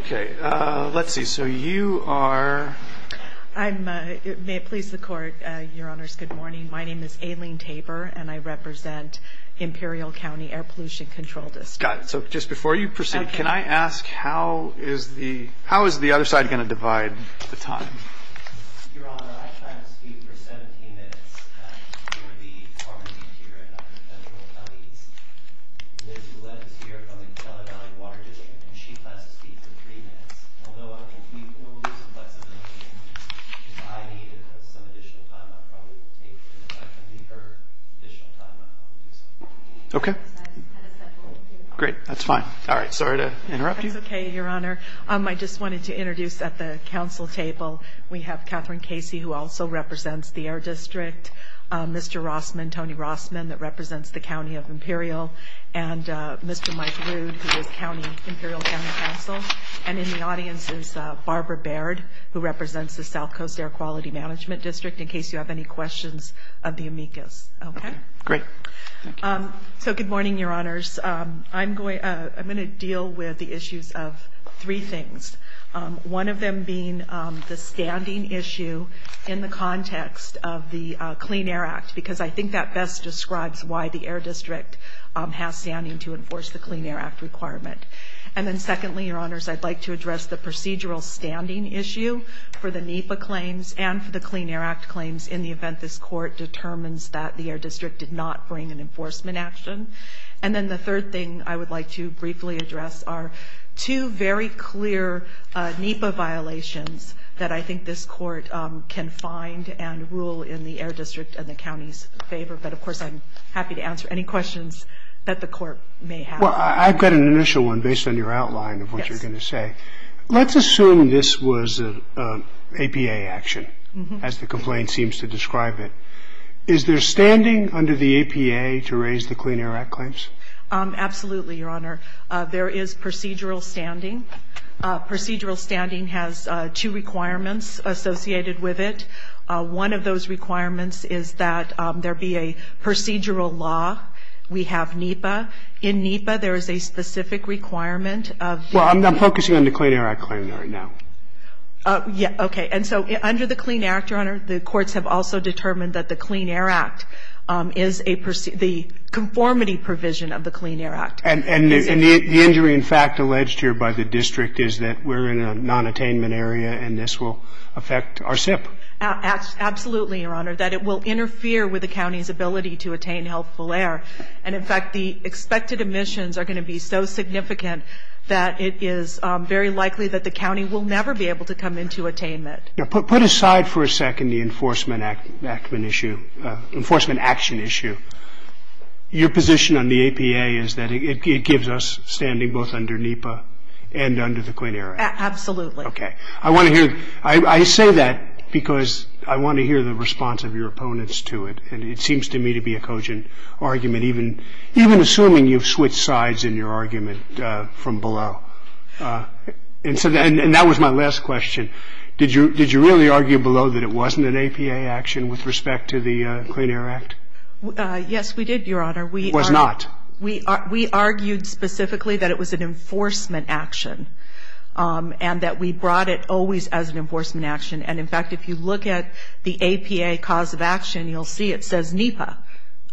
Okay, let's see. So you are? I'm, may it please the Court, Your Honors, good morning. My name is Aileen Tabor, and I represent Imperial County Air Pollution Control District. Got it. So just before you proceed, can I ask, how is the other side going to divide the time? Your Honor, I've tried to speak for 17 minutes. I'm here at the Department of Interior at Dr. Cecil Kelly's. Liz lives here from the flood on Watergate, and she's had to speak for three minutes. Although I hope we can move this investigation, if I need some additional time, I'll probably speak to her for additional time. Okay. Great, that's fine. All right, sorry to interrupt you. I'm okay, Your Honor. I just wanted to introduce at the council table, we have Catherine Casey, who also represents the Air District, Mr. Rossman, Tony Rossman, that represents the County of Imperial, and Mr. Mike Rude, the Imperial County Council. And in the audience is Barbara Baird, who represents the South Coast Air Quality Management District, in case you have any questions of the amicus. Okay, great. So good morning, Your Honors. I'm going to deal with the issues of three things, one of them being the standing issue in the context of the Clean Air Act, because I think that best describes why the Air District has standing to enforce the Clean Air Act requirement. And then secondly, Your Honors, I'd like to address the procedural standing issue for the NEPA claims and for the Clean Air Act claims in the event this court determines that the Air District did not bring an enforcement action. And then the third thing I would like to briefly address are two very clear NEPA violations that I think this court can find and rule in the Air District's and the county's favor, but of course I'm happy to answer any questions that the court may have. Well, I've got an initial one based on your outline of what you're going to say. Let's assume this was an APA action, as the complaint seems to describe it. Is there standing under the APA to raise the Clean Air Act claims? Absolutely, Your Honor. There is procedural standing. Procedural standing has two requirements associated with it. One of those requirements is that there be a procedural law. We have NEPA. In NEPA, there is a specific requirement of- Well, I'm focusing on the Clean Air Act claim right now. Yeah, okay. And so under the Clean Air Act, Your Honor, the courts have also determined that the Clean Air Act is a conformity provision of the Clean Air Act. And the injury, in fact, alleged here by the district is that we're in a non-attainment area and this will affect our SIP. Absolutely, Your Honor, that it will interfere with the county's ability to attain healthful air. And in fact, the expected emissions are going to be so significant that it is very likely that the county will never be able to come into attainment. Now, put aside for a second the enforcement action issue. Your position on the APA is that it gives us standing both under NEPA and under the Clean Air Act. Absolutely. Okay. I want to hear- I say that because I want to hear the response of your opponents to it. And it seems to me to be a cogent argument, even assuming you've switched sides in your argument from below. And that was my last question. Did you really argue below that it wasn't an APA action with respect to the Clean Air Act? Yes, we did, Your Honor. It was not? We argued specifically that it was an enforcement action and that we brought it always as an enforcement action. And in fact, if you look at the APA cause of action, you'll see it says NEPA.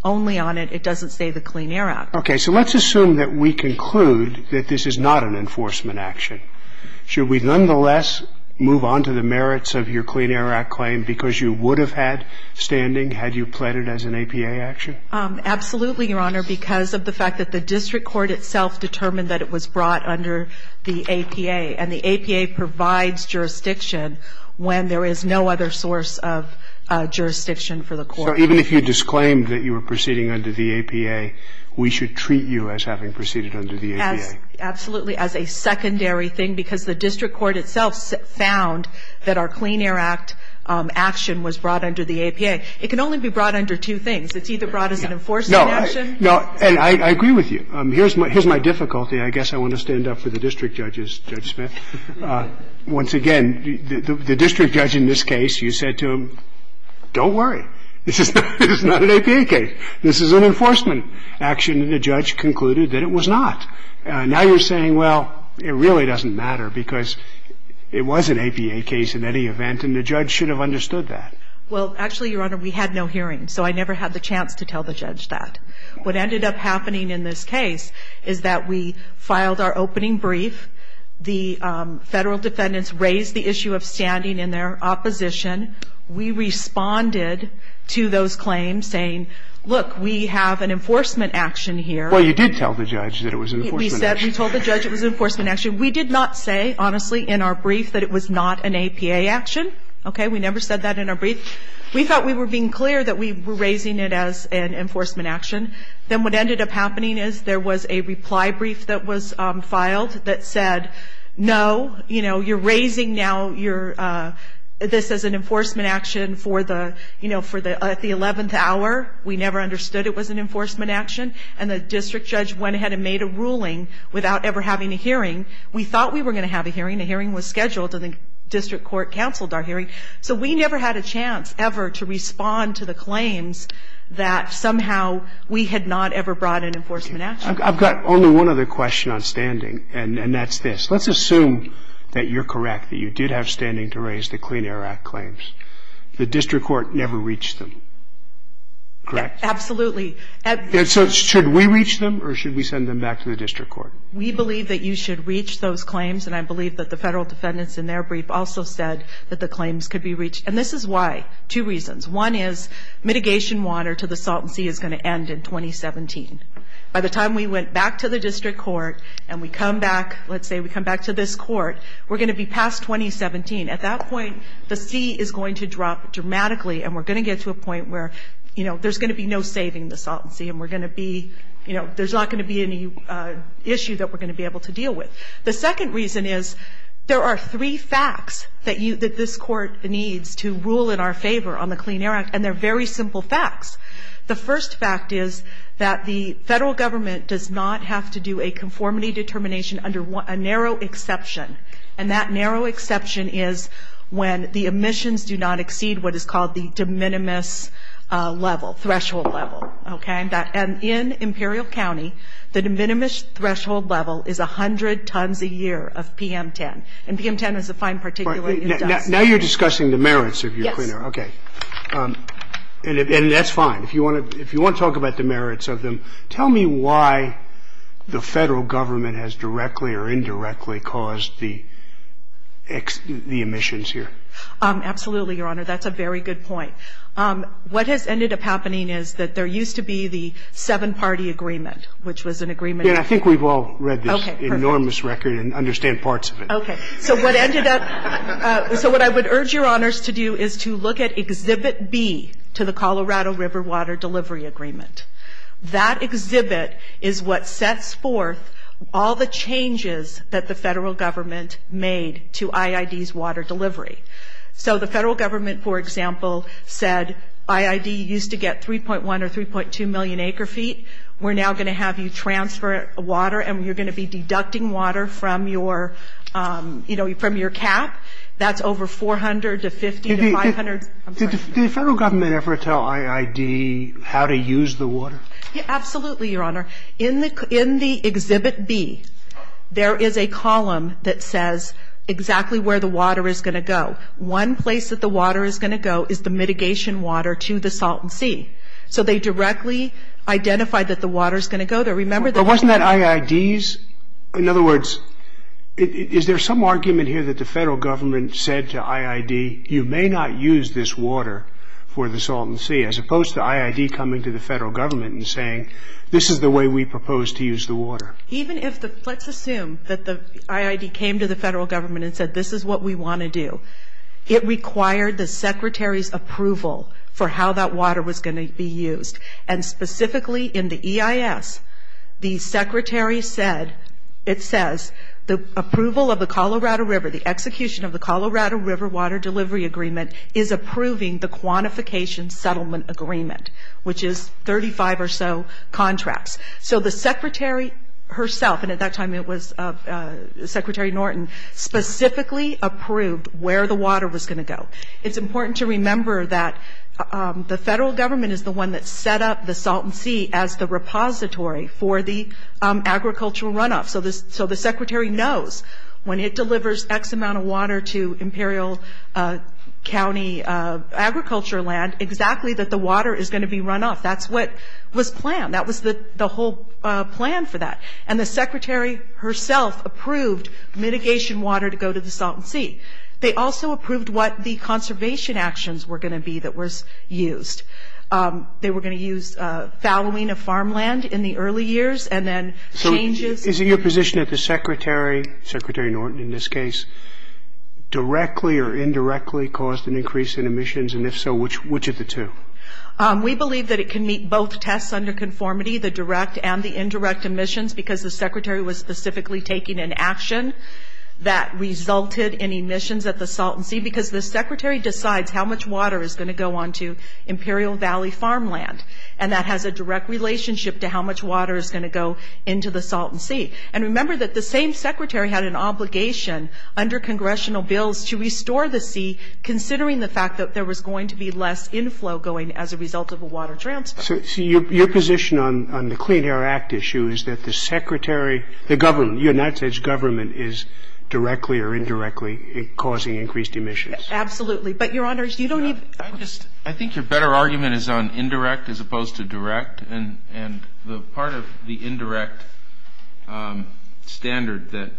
Only on it, it doesn't say the Clean Air Act. Okay. So let's assume that we conclude that this is not an enforcement action. Should we nonetheless move on to the merits of your Clean Air Act claim because you would have had standing had you pled it as an APA action? Absolutely, Your Honor, because of the fact that the district court itself determined that it was brought under the APA. And the APA provides jurisdiction when there is no other source of jurisdiction for the court. So even if you disclaim that you were proceeding under the APA, we should treat you as having proceeded under the APA? Absolutely, as a secondary thing because the district court itself found that our Clean Air Act action was brought under the APA. It can only be brought under two things. It's either brought as an enforcement action. No, and I agree with you. Here's my difficulty. I guess I want to stand up for the district judges, Judge Smith. Once again, the district judge in this case, you said to him, don't worry. This is not an APA case. This is an enforcement action, and the judge concluded that it was not. Now you're saying, well, it really doesn't matter because it was an APA case in any event, and the judge should have understood that. Well, actually, Your Honor, we had no hearing, so I never had the chance to tell the judge that. What ended up happening in this case is that we filed our opening brief. The federal defendants raised the issue of standing in their opposition. We responded to those claims saying, look, we have an enforcement action here. Well, you did tell the judge that it was an enforcement action. We told the judge it was an enforcement action. We did not say, honestly, in our brief that it was not an APA action. Okay? We never said that in our brief. We thought we were being clear that we were raising it as an enforcement action. Then what ended up happening is there was a reply brief that was filed that said, no, you know, you're raising now this as an enforcement action for the, you know, for the 11th hour. We never understood it was an enforcement action, and the district judge went ahead and made a ruling without ever having a hearing. We thought we were going to have a hearing. The hearing was scheduled, and the district court canceled our hearing. So we never had a chance ever to respond to the claims that somehow we had not ever brought an enforcement action. I've got only one other question on standing, and that's this. Let's assume that you're correct, that you did have standing to raise the Clean Air Act claims. The district court never reached them. Correct? Absolutely. Should we reach them, or should we send them back to the district court? We believe that you should reach those claims, and I believe that the federal defendants in their brief also said that the claims could be reached, and this is why. Two reasons. One is mitigation water to the Salton Sea is going to end in 2017. By the time we went back to the district court and we come back, let's say we come back to this court, we're going to be past 2017. At that point, the sea is going to drop dramatically, and we're going to get to a point where, you know, there's going to be no saving the Salton Sea, and we're going to be, you know, there's not going to be any issues that we're going to be able to deal with. The second reason is there are three facts that this court needs to rule in our favor on the Clean Air Act, and they're very simple facts. The first fact is that the federal government does not have to do a conformity determination under a narrow exception, and that narrow exception is when the emissions do not exceed what is called the de minimis level, threshold level, okay? And in Imperial County, the de minimis threshold level is 100 tons a year of PM10, and PM10 is a fine particulate. Now you're discussing the merits of your Clean Air. Yes. Okay. And that's fine. If you want to talk about the merits of them, tell me why the federal government has directly or indirectly caused the emissions here. Absolutely, Your Honor. That's a very good point. What has ended up happening is that there used to be the seven-party agreement, which was an agreement. Yeah, I think we've all read this enormous record and understand parts of it. Okay. So what ended up ‑‑ so what I would urge Your Honors to do is to look at Exhibit B to the Colorado River Water Delivery Agreement. That exhibit is what sets forth all the changes that the federal government made to IID's water delivery. So the federal government, for example, said IID used to get 3.1 or 3.2 million acre feet. We're now going to have you transfer water, and you're going to be deducting water from your cap. That's over 400 to 50 to 500. Did the federal government ever tell IID how to use the water? Absolutely, Your Honor. In the Exhibit B, there is a column that says exactly where the water is going to go. One place that the water is going to go is the mitigation water to the Salton Sea. So they directly identified that the water is going to go there. Remember that ‑‑ But wasn't that IID's? In other words, is there some argument here that the federal government said to IID, you may not use this water for the Salton Sea, as opposed to IID coming to the federal government and saying this is the way we propose to use the water? Let's assume that the IID came to the federal government and said this is what we want to do. It required the Secretary's approval for how that water was going to be used. And specifically in the EIS, the Secretary said, it says, the approval of the Colorado River, the execution of the Colorado River Water Delivery Agreement is approving the Quantification Settlement Agreement, which is 35 or so contracts. So the Secretary herself, and at that time it was Secretary Norton, specifically approved where the water was going to go. It's important to remember that the federal government is the one that set up the Salton Sea as the repository for the agricultural runoff. So the Secretary knows when it delivers X amount of water to Imperial County agriculture land, exactly that the water is going to be runoff. That's what was planned. That was the whole plan for that. And the Secretary herself approved mitigation water to go to the Salton Sea. They also approved what the conservation actions were going to be that was used. They were going to use fallowing of farmland in the early years and then changes. Is it your position that the Secretary, Secretary Norton in this case, directly or indirectly caused an increase in emissions? And if so, which of the two? We believe that it can meet both tests under conformity, the direct and the indirect emissions, because the Secretary was specifically taking an action that resulted in emissions at the Salton Sea, because the Secretary decides how much water is going to go on to Imperial Valley farmland. And that has a direct relationship to how much water is going to go into the Salton Sea. And remember that the same Secretary had an obligation under congressional bills to restore the sea, considering the fact that there was going to be less inflow going as a result of the water tramps. So your position on the Clean Air Act issue is that the Secretary, the government, you're not saying the government is directly or indirectly causing increased emissions. Absolutely. But, Your Honors, you don't need – I think your better argument is on indirect as opposed to direct. And the part of the indirect standard that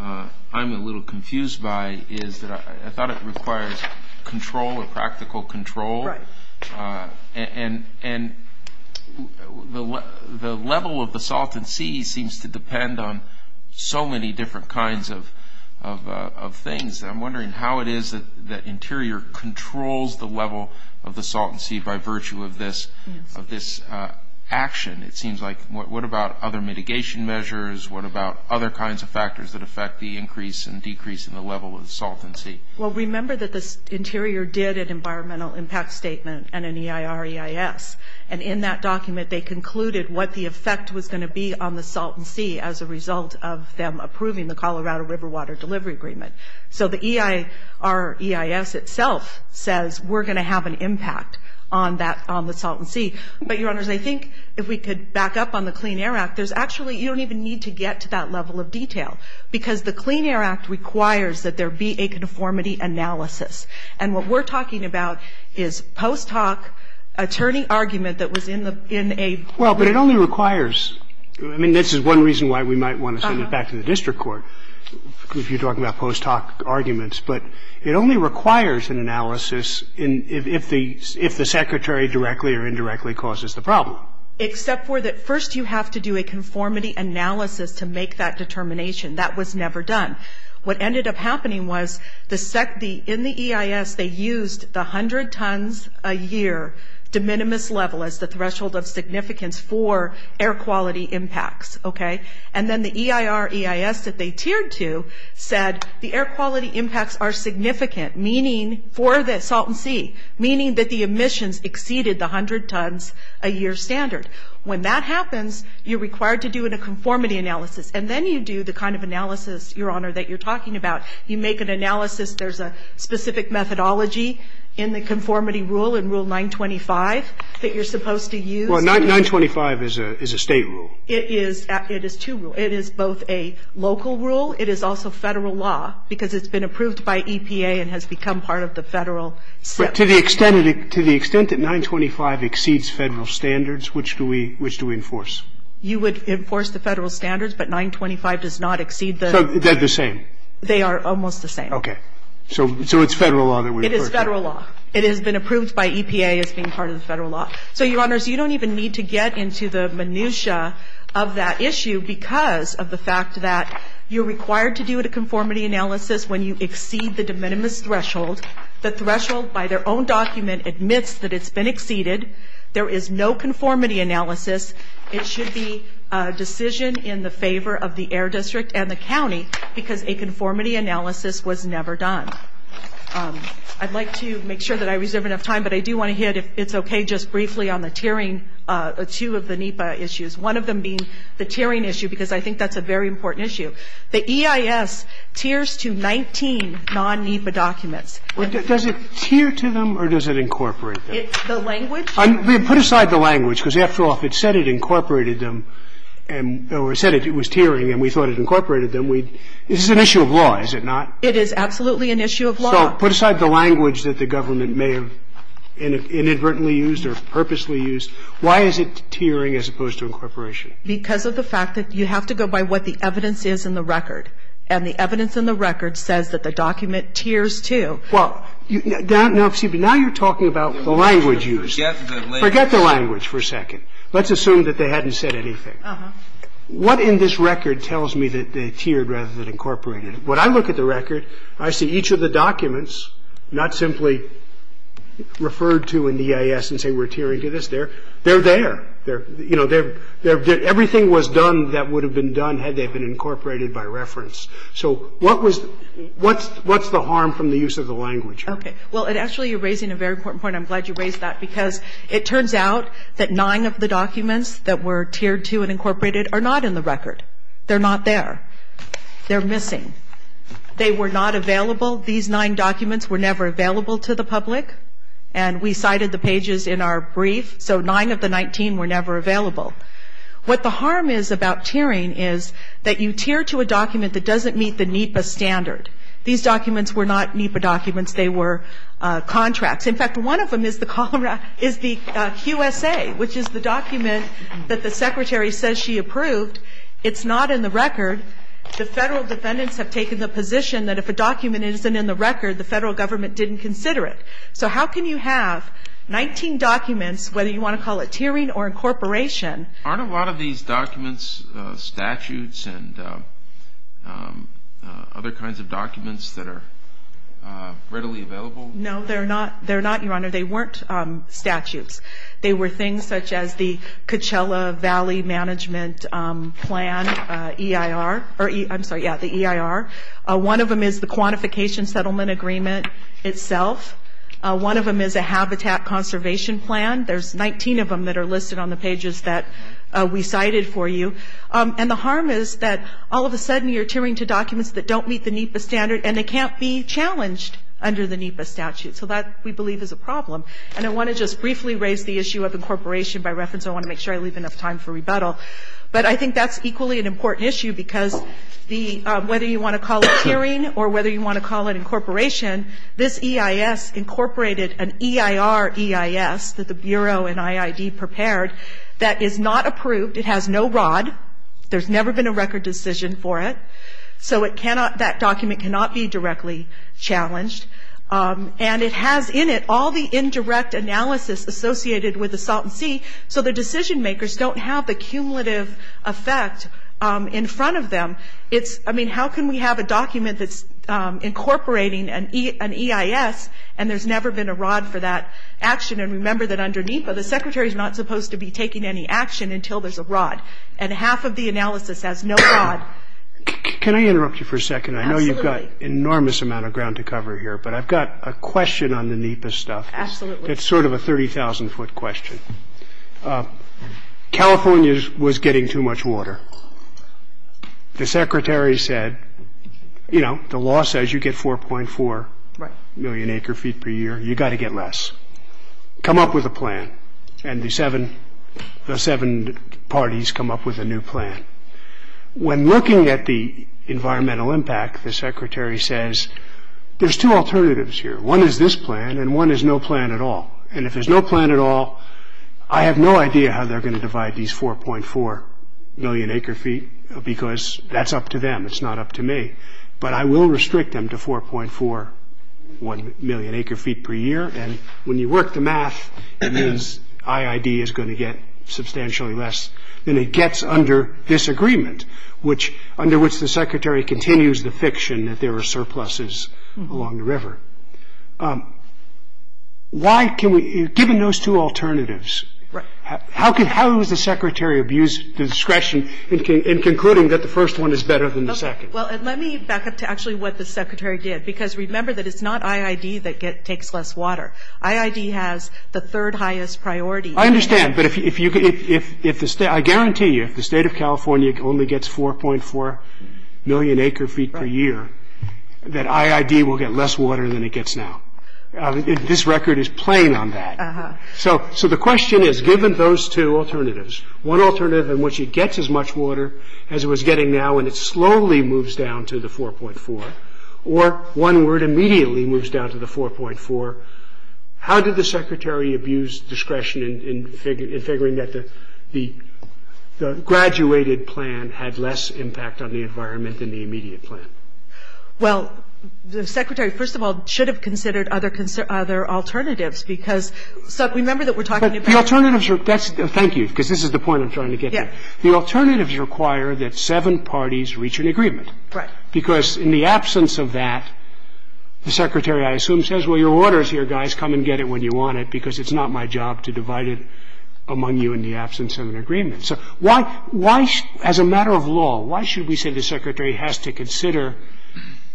I'm a little confused by is that I thought it requires control or practical control. Right. And the level of the Salton Sea seems to depend on so many different kinds of things. I'm wondering how it is that Interior controls the level of the Salton Sea by virtue of this action. It seems like – what about other mitigation measures? What about other kinds of factors that affect the increase and decrease in the level of the Salton Sea? Well, remember that the Interior did an environmental impact statement and an EIR-EIS. And in that document, they concluded what the effect was going to be on the Salton Sea as a result of them approving the Colorado River Water Delivery Agreement. So the EIR-EIS itself says we're going to have an impact on the Salton Sea. But, Your Honors, I think if we could back up on the Clean Air Act, there's actually – you don't even need to get to that level of detail because the Clean Air Act requires that there be a conformity analysis. And what we're talking about is post hoc attorney argument that was in a – Well, but it only requires – I mean, this is one reason why we might want to send it back to the district court. If you're talking about post hoc arguments. But it only requires an analysis if the secretary directly or indirectly causes the problem. Except for that first you have to do a conformity analysis to make that determination. That was never done. What ended up happening was the – in the EIS, they used the 100 tons a year de minimis level as the threshold of significance for air quality impacts, okay? And then the EIR-EIS that they tiered to said the air quality impacts are significant, meaning – for the Salton Sea, meaning that the emissions exceeded the 100 tons a year standard. When that happens, you're required to do a conformity analysis. And then you do the kind of analysis, Your Honor, that you're talking about. You make an analysis. There's a specific methodology in the conformity rule in Rule 925 that you're supposed to use. Well, 925 is a state rule. It is two rules. It is both a local rule. It is also federal law because it's been approved by EPA and has become part of the federal – But to the extent that 925 exceeds federal standards, which do we enforce? You would enforce the federal standards, but 925 does not exceed the – So they're the same? They are almost the same. Okay. So it's federal law that we're – It is federal law. It has been approved by EPA as being part of the federal law. So, Your Honors, you don't even need to get into the minutiae of that issue because of the fact that you're required to do a conformity analysis when you exceed the de minimis threshold. The threshold by their own document admits that it's been exceeded. There is no conformity analysis. It should be a decision in the favor of the Air District and the county because a conformity analysis was never done. I'd like to make sure that I reserve enough time, but I do want to hit if it's okay just briefly on the tiering, two of the NEPA issues, one of them being the tiering issue because I think that's a very important issue. The EIS tiers to 19 non-NEPA documents. Does it tier to them or does it incorporate them? The language? Put aside the language because after all, if it said it incorporated them or said it was tiering and we thought it incorporated them, this is an issue of law, is it not? It is absolutely an issue of law. So put aside the language that the government may have inadvertently used or purposely used. Why is it tiering as opposed to incorporation? Because of the fact that you have to go by what the evidence is in the record and the evidence in the record says that the document tiers to. Well, now you're talking about the language used. Forget the language for a second. Let's assume that they hadn't said anything. What in this record tells me that they tiered rather than incorporated? When I look at the record, I see each of the documents, not simply referred to in the EIS and say we're tiering to this. They're there. You know, everything was done that would have been done had they been incorporated by reference. So what's the harm from the use of the language? Okay. Well, actually you're raising a very important point. I'm glad you raised that because it turns out that nine of the documents that were tiered to and incorporated are not in the record. They're not there. They're missing. They were not available. These nine documents were never available to the public, and we cited the pages in our brief, so nine of the 19 were never available. What the harm is about tiering is that you tier to a document that doesn't meet the NEPA standard. These documents were not NEPA documents. They were contracts. In fact, one of them is the QSA, which is the document that the secretary says she approved. It's not in the record. The federal defendants have taken the position that if a document isn't in the record, the federal government didn't consider it. So how can you have 19 documents, whether you want to call it tiering or incorporation? Aren't a lot of these documents statutes and other kinds of documents that are readily available? No, they're not, Your Honor. They weren't statutes. They were things such as the Coachella Valley Management Plan, EIR. I'm sorry, yeah, the EIR. One of them is the Quantification Settlement Agreement itself. One of them is a Habitat Conservation Plan. There's 19 of them that are listed on the pages that we cited for you. And the harm is that all of a sudden you're tiering to documents that don't meet the NEPA standard, and they can't be challenged under the NEPA statute. So that, we believe, is a problem. And I want to just briefly raise the issue of incorporation by reference. I want to make sure I leave enough time for rebuttal. But I think that's equally an important issue because whether you want to call it tiering or whether you want to call it incorporation, this EIS incorporated an EIR EIS that the Bureau and IID prepared that is not approved. It has no ROD. There's never been a record decision for it. So that document cannot be directly challenged. And it has in it all the indirect analysis associated with a salt and sea, so the decision makers don't have the cumulative effect in front of them. I mean, how can we have a document that's incorporating an EIS and there's never been a ROD for that action? And remember that under NEPA, the Secretary's not supposed to be taking any action until there's a ROD. And half of the analysis has no ROD. Can I interrupt you for a second? Absolutely. You've got an enormous amount of ground to cover here. But I've got a question on the NEPA stuff. Absolutely. It's sort of a 30,000-foot question. California was getting too much water. The Secretary said, you know, the law says you get 4.4 million acre feet per year. You've got to get less. Come up with a plan. And the seven parties come up with a new plan. When looking at the environmental impact, the Secretary says there's two alternatives here. One is this plan, and one is no plan at all. And if there's no plan at all, I have no idea how they're going to divide these 4.4 million acre feet because that's up to them. It's not up to me. But I will restrict them to 4.41 million acre feet per year. And when you work the math, it means IID is going to get substantially less than it gets under this agreement, under which the Secretary continues the fiction that there are surpluses along the river. Given those two alternatives, how is the Secretary of use discretion in concluding that the first one is better than the second? Well, let me back up to actually what the Secretary did because remember that it's not IID that takes less water. IID has the third highest priority. I understand, but I guarantee you if the state of California only gets 4.4 million acre feet per year, that IID will get less water than it gets now. This record is playing on that. So the question is, given those two alternatives, one alternative in which it gets as much water as it was getting now and it slowly moves down to the 4.4, or one where it immediately moves down to the 4.4, how did the Secretary abuse discretion in figuring that the graduated plan had less impact on the environment than the immediate plan? Well, the Secretary, first of all, should have considered other alternatives because remember that we're talking about... Thank you, because this is the point I'm trying to get to. The alternatives require that seven parties reach an agreement. Right. Because in the absence of that, the Secretary, I assume, says, well, your water is here, guys, come and get it when you want it because it's not my job to divide it among you in the absence of an agreement. So as a matter of law, why should we say the Secretary has to consider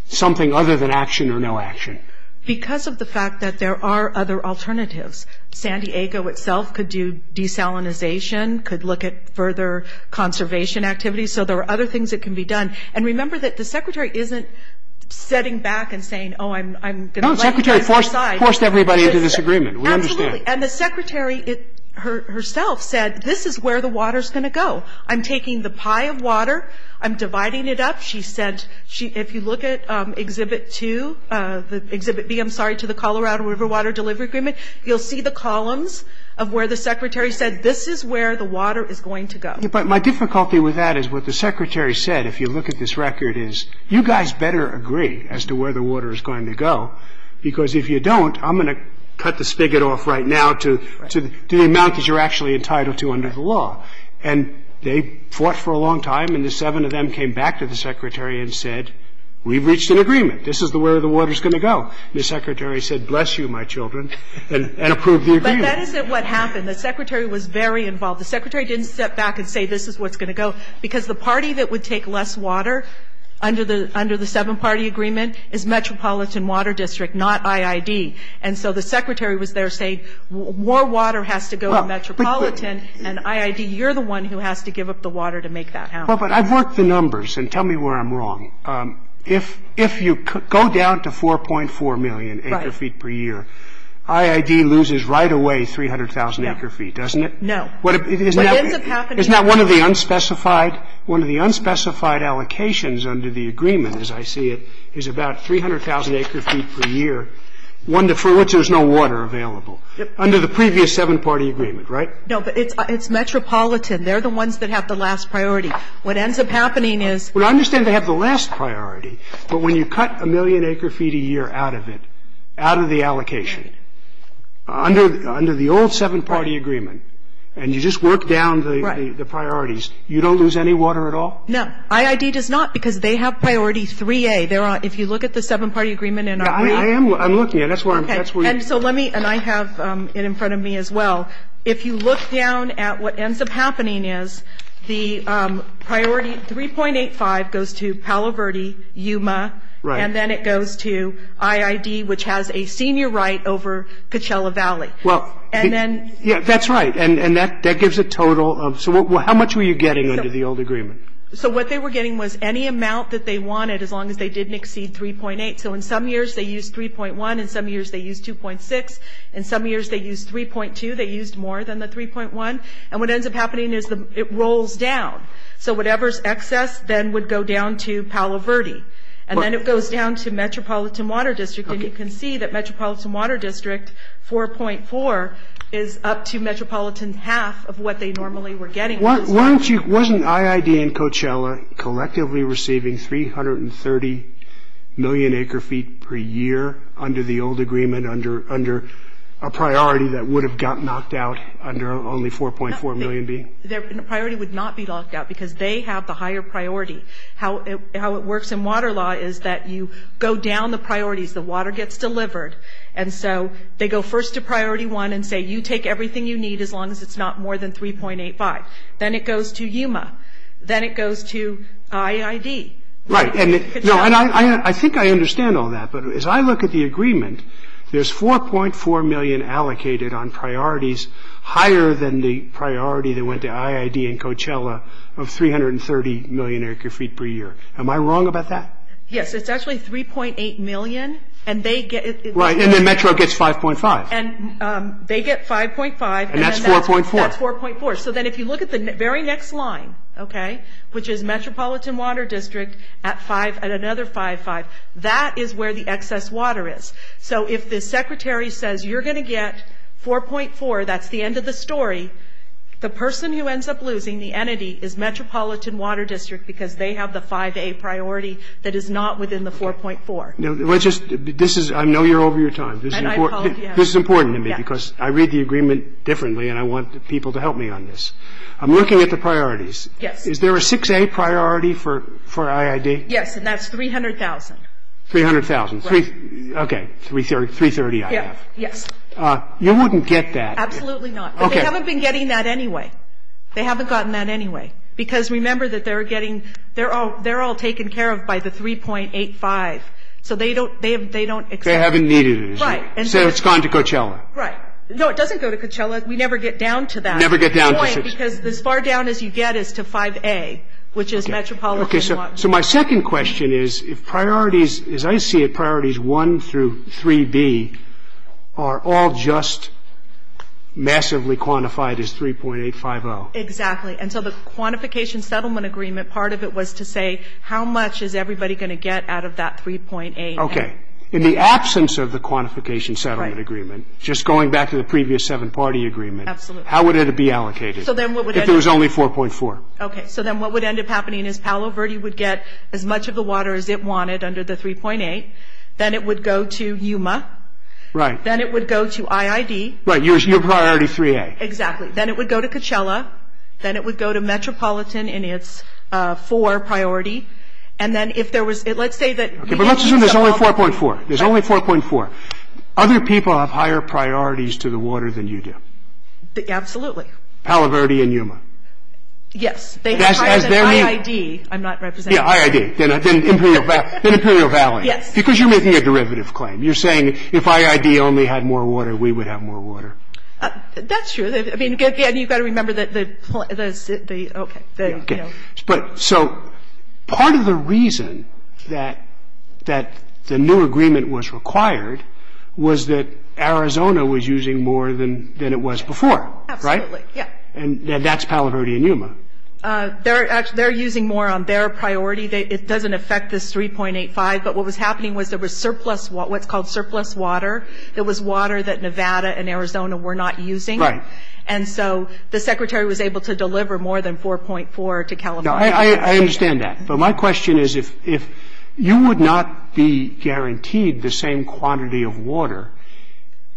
something other than action or no action? Because of the fact that there are other alternatives. San Diego itself could do desalinization, could look at further conservation activities. So there are other things that can be done. And remember that the Secretary isn't sitting back and saying, oh, I'm going to let you turn your side. No, the Secretary forced everybody into this agreement. We understand. Absolutely. And the Secretary herself said, this is where the water is going to go. I'm taking the pie of water. I'm dividing it up. She said, if you look at Exhibit 2, Exhibit B, I'm sorry, to the Colorado River Water Delivery Agreement, you'll see the columns of where the Secretary said, this is where the water is going to go. But my difficulty with that is what the Secretary said. If you look at this record, you guys better agree as to where the water is going to go. Because if you don't, I'm going to cut the spigot off right now to the amount that you're actually entitled to under the law. And they fought for a long time. And the seven of them came back to the Secretary and said, we've reached an agreement. This is where the water is going to go. The Secretary said, bless you, my children, and approved the agreement. But that isn't what happened. The Secretary was very involved. The Secretary didn't step back and say, this is what's going to go. Because the party that would take less water under the seven-party agreement is Metropolitan Water District, not IID. And so the Secretary was there saying, more water has to go to Metropolitan and IID. You're the one who has to give up the water to make that happen. Well, but I've worked the numbers, and tell me where I'm wrong. If you go down to 4.4 million acre-feet per year, IID loses right away 300,000 acre-feet, doesn't it? No. Isn't that one of the unspecified allocations under the agreement, as I see it, is about 300,000 acre-feet per year, for which there's no water available, under the previous seven-party agreement, right? No, but it's Metropolitan. They're the ones that have the last priority. What ends up happening is – Well, I understand they have the last priority. But when you cut a million acre-feet a year out of it, out of the allocation, under the old seven-party agreement, and you just work down the priorities, you don't lose any water at all? No, IID does not, because they have Priority 3A. If you look at the seven-party agreement – I am looking at it. And I have it in front of me as well. If you look down at what ends up happening is, the Priority 3.85 goes to Palo Verde, Yuma, and then it goes to IID, which has a senior right over Coachella Valley. And then – Yeah, that's right. And that gives a total of – so how much were you getting under the old agreement? So what they were getting was any amount that they wanted, as long as they didn't exceed 3.8. So in some years, they used 3.1. In some years, they used 2.6. In some years, they used 3.2. They used more than the 3.1. And what ends up happening is it rolls down. So whatever's excess then would go down to Palo Verde. And then it goes down to Metropolitan Water District. And you can see that Metropolitan Water District 4.4 is up to Metropolitan's half of what they normally were getting. Wasn't IID and Coachella collectively receiving 330 million acre-feet per year under the old agreement, under a priority that would have got knocked out under only 4.4 million being – Their priority would not be knocked out because they have the higher priority. How it works in water law is that you go down the priorities. The water gets delivered. And so they go first to priority one and say, you take everything you need as long as it's not more than 3.85. Then it goes to Yuma. Then it goes to IID. Right. And I think I understand all that. But as I look at the agreement, there's 4.4 million allocated on priorities higher than the priority that went to IID and Coachella of 330 million acre-feet per year. Am I wrong about that? Yes. It's actually 3.8 million. And they get – Right. And then Metro gets 5.5. And they get 5.5. And that's 4.4. That's 4.4. So then if you look at the very next line, okay, which is Metropolitan Water District at another 5.5, that is where the excess water is. So if the secretary says, you're going to get 4.4, that's the end of the story, the person who ends up losing, the entity, is Metropolitan Water District because they have the 5A priority that is not within the 4.4. This is – I know you're over your time. This is important to me because I read the agreement differently and I want people to help me on this. I'm looking at the priorities. Is there a 6A priority for IID? Yes. And that's 300,000. 300,000. Okay. 330, I have. Yes. You wouldn't get that. Absolutely not. Okay. But they haven't been getting that anyway. They haven't gotten that anyway. Because remember that they're getting – they're all taken care of by the 3.85. So they don't – They haven't needed it. Right. So it's gone to Coachella. Right. No, it doesn't go to Coachella. We never get down to that. Never get down to Coachella. Right, because as far down as you get is to 5A, which is Metropolitan Water District. Okay. So my second question is if priorities – as I see it, priorities 1 through 3B are all just massively quantified as 3.850. Exactly. And so the quantification settlement agreement, part of it was to say how much is everybody going to get out of that 3.85. Okay. In the absence of the quantification settlement agreement, just going back to the previous seven-party agreement, how would it be allocated? If it was only 4.4. Okay. So then what would end up happening is Palo Verde would get as much of the water as it wanted under the 3.8. Then it would go to Yuma. Right. Then it would go to IID. Right. Your priority 3A. Exactly. Then it would go to Coachella. Then it would go to Metropolitan in its 4 priority. And then if there was – let's say that – But let's assume there's only 4.4. There's only 4.4. Other people have higher priorities to the water than you do. Absolutely. Palo Verde and Yuma. Yes. They have higher than IID. I'm not representing – Yeah, IID. Then Imperial Valley. Yes. Because you're making a derivative claim. You're saying if IID only had more water, we would have more water. That's true. I mean, again, you've got to remember that the – okay. Okay. So part of the reason that the new agreement was required was that Arizona was using more than it was before. Right? Absolutely. Yeah. And that's Palo Verde and Yuma. They're using more on their priority. It doesn't affect this 3.85. But what was happening was there was surplus – what's called surplus water. It was water that Nevada and Arizona were not using. Right. And so the Secretary was able to deliver more than 4.4 to Kalamazoo. I understand that. But my question is if you would not be guaranteed the same quantity of water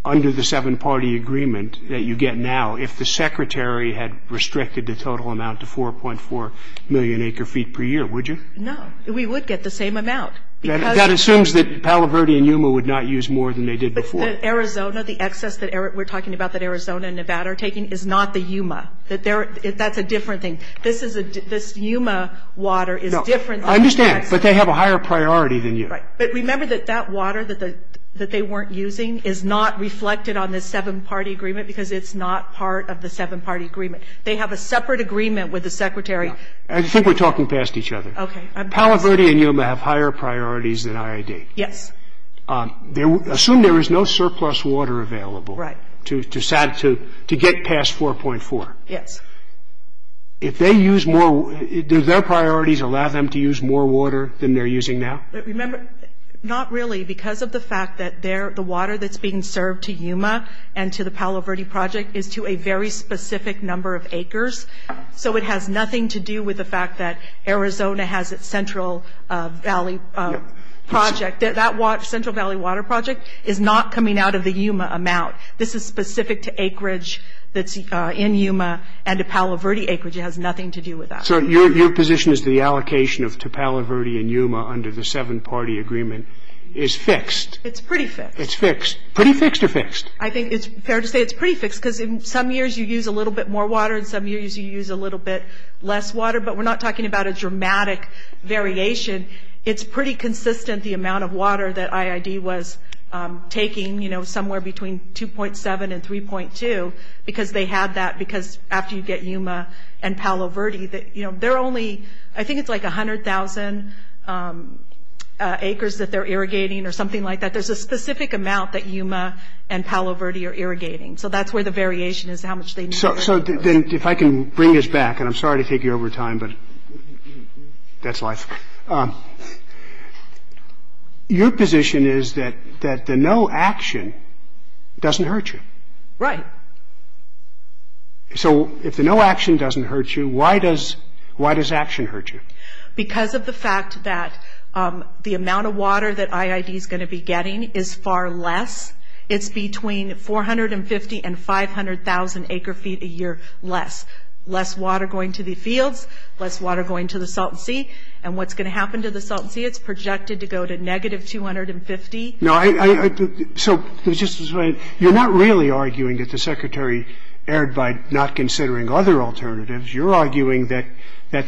under the seven-party agreement that you get now if the Secretary had restricted the total amount to 4.4 million acre-feet per year, would you? No. We would get the same amount. That assumes that Palo Verde and Yuma would not use more than they did before. But Arizona, the excess that we're talking about that Arizona and Nevada are taking is not the Yuma. That's a different thing. This Yuma water is different. I understand. But they have a higher priority than you. Right. But remember that that water that they weren't using is not reflected on the seven-party agreement because it's not part of the seven-party agreement. They have a separate agreement with the Secretary. I think we're talking past each other. Okay. Palo Verde and Yuma have higher priorities than IID. Yes. Assume there is no surplus water available to get past 4.4. Yes. If they use more – does their priorities allow them to use more water than they're using now? Not really because of the fact that the water that's being served to Yuma and to the Palo Verde project is to a very specific number of acres. So it has nothing to do with the fact that Arizona has its Central Valley project. That Central Valley water project is not coming out of the Yuma amount. This is specific to acreage that's in Yuma and to Palo Verde acreage. It has nothing to do with that. So your position is the allocation to Palo Verde and Yuma under the seven-party agreement is fixed? It's pretty fixed. It's fixed. Pretty fixed or fixed? I think it's fair to say it's pretty fixed because in some years you use a little bit more water and some years you use a little bit less water. But we're not talking about a dramatic variation. It's pretty consistent the amount of water that IID was taking, you know, somewhere between 2.7 and 3.2 because they have that because after you get Yuma and Palo Verde, you know, they're only, I think it's like 100,000 acres that they're irrigating or something like that. There's a specific amount that Yuma and Palo Verde are irrigating. So that's where the variation is how much they need. So then if I can bring this back, and I'm sorry to take you over time, but that's life. Your position is that the no action doesn't hurt you. Right. So if the no action doesn't hurt you, why does action hurt you? Because of the fact that the amount of water that IID is going to be getting is far less. It's between 450 and 500,000 acre feet a year less. Less water going to the fields, less water going to the Salton Sea. And what's going to happen to the Salton Sea? It's projected to go to negative 250. So you're not really arguing that the secretary erred by not considering other alternatives. You're arguing that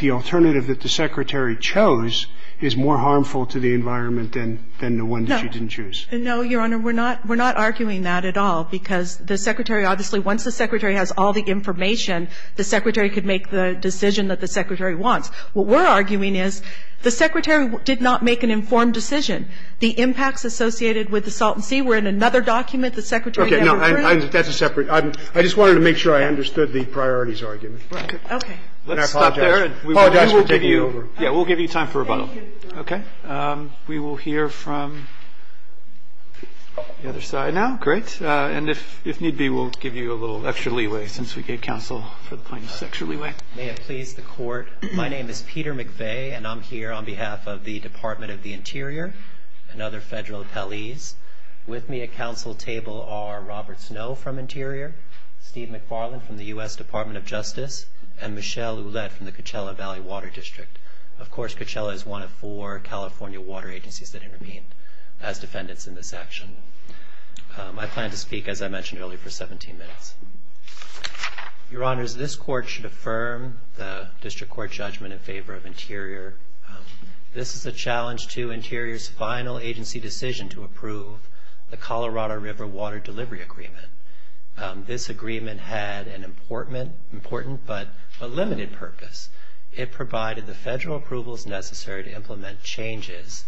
the alternative that the secretary chose is more harmful to the environment than the one that she didn't choose. No, Your Honor, we're not arguing that at all. Because the secretary, obviously, once the secretary has all the information, the secretary could make the decision that the secretary wants. What we're arguing is the secretary did not make an informed decision. The impacts associated with the Salton Sea were in another document. I just wanted to make sure I understood the priorities argument. Okay. We'll give you time for rebuttal. Okay. We will hear from the other side now. Great. And if need be, we'll give you a little extra leeway since we gave counsel for the point of extra leeway. May it please the Court, my name is Peter McVeigh, and I'm here on behalf of the Department of the Interior and other federal attellees. With me at counsel table are Robert Snow from Interior, Steve McFarland from the U.S. Department of Justice, and Michelle Ouellette from the Coachella Valley Water District. Of course, Coachella is one of four California water agencies that intervene as defendants in this action. I plan to speak, as I mentioned earlier, for 17 minutes. Your Honors, this Court should affirm the District Court judgment in favor of Interior. This is a challenge to Interior's final agency decision to approve the Colorado River Water Delivery Agreement. This agreement had an important but a limited purpose. It provided the federal approvals necessary to implement changes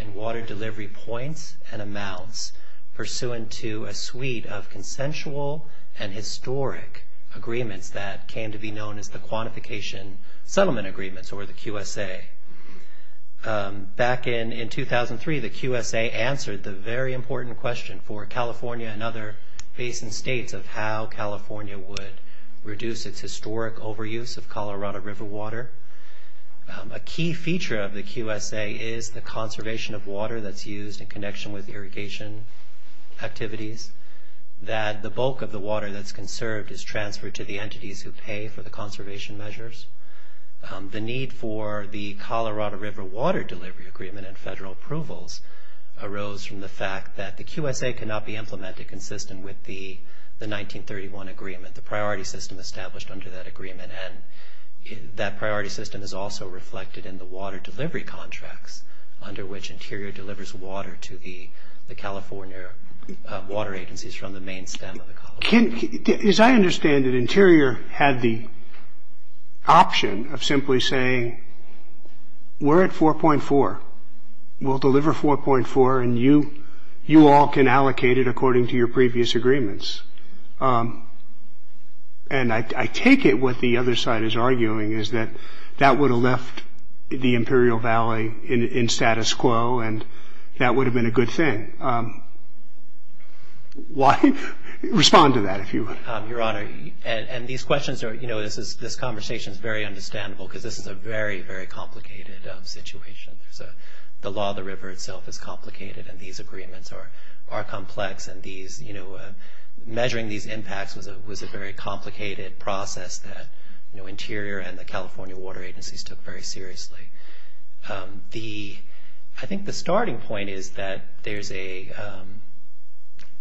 in water delivery points and amounts pursuant to a suite of consensual and historic agreements that came to be known as the Quantification Settlement Agreements, or the QSA. Back in 2003, the QSA answered the very important question for California and other basin states of how California would reduce its historic overuse of Colorado River water. A key feature of the QSA is the conservation of water that's used in connection with irrigation activities, that the bulk of the water that's conserved is transferred to the entities who pay for the conservation measures. The need for the Colorado River Water Delivery Agreement and federal approvals arose from the fact that the QSA cannot be implemented consistent with the 1931 agreement, the priority system established under that agreement, and that priority system is also reflected in the water delivery contracts under which Interior delivers water to the California water agencies from the main stem of the Colorado River. As I understand it, Interior had the option of simply saying, we're at 4.4, we'll deliver 4.4 and you all can allocate it according to your previous agreements. And I take it what the other side is arguing is that that would have left the Imperial Valley in status quo and that would have been a good thing. Why? Respond to that if you would. Your Honor, and these questions, this conversation is very understandable because this is a very, very complicated situation. The law of the river itself is complicated and these agreements are complex and measuring these impacts was a very complicated process that Interior and the California water agencies took very seriously. I think the starting point is that there's a,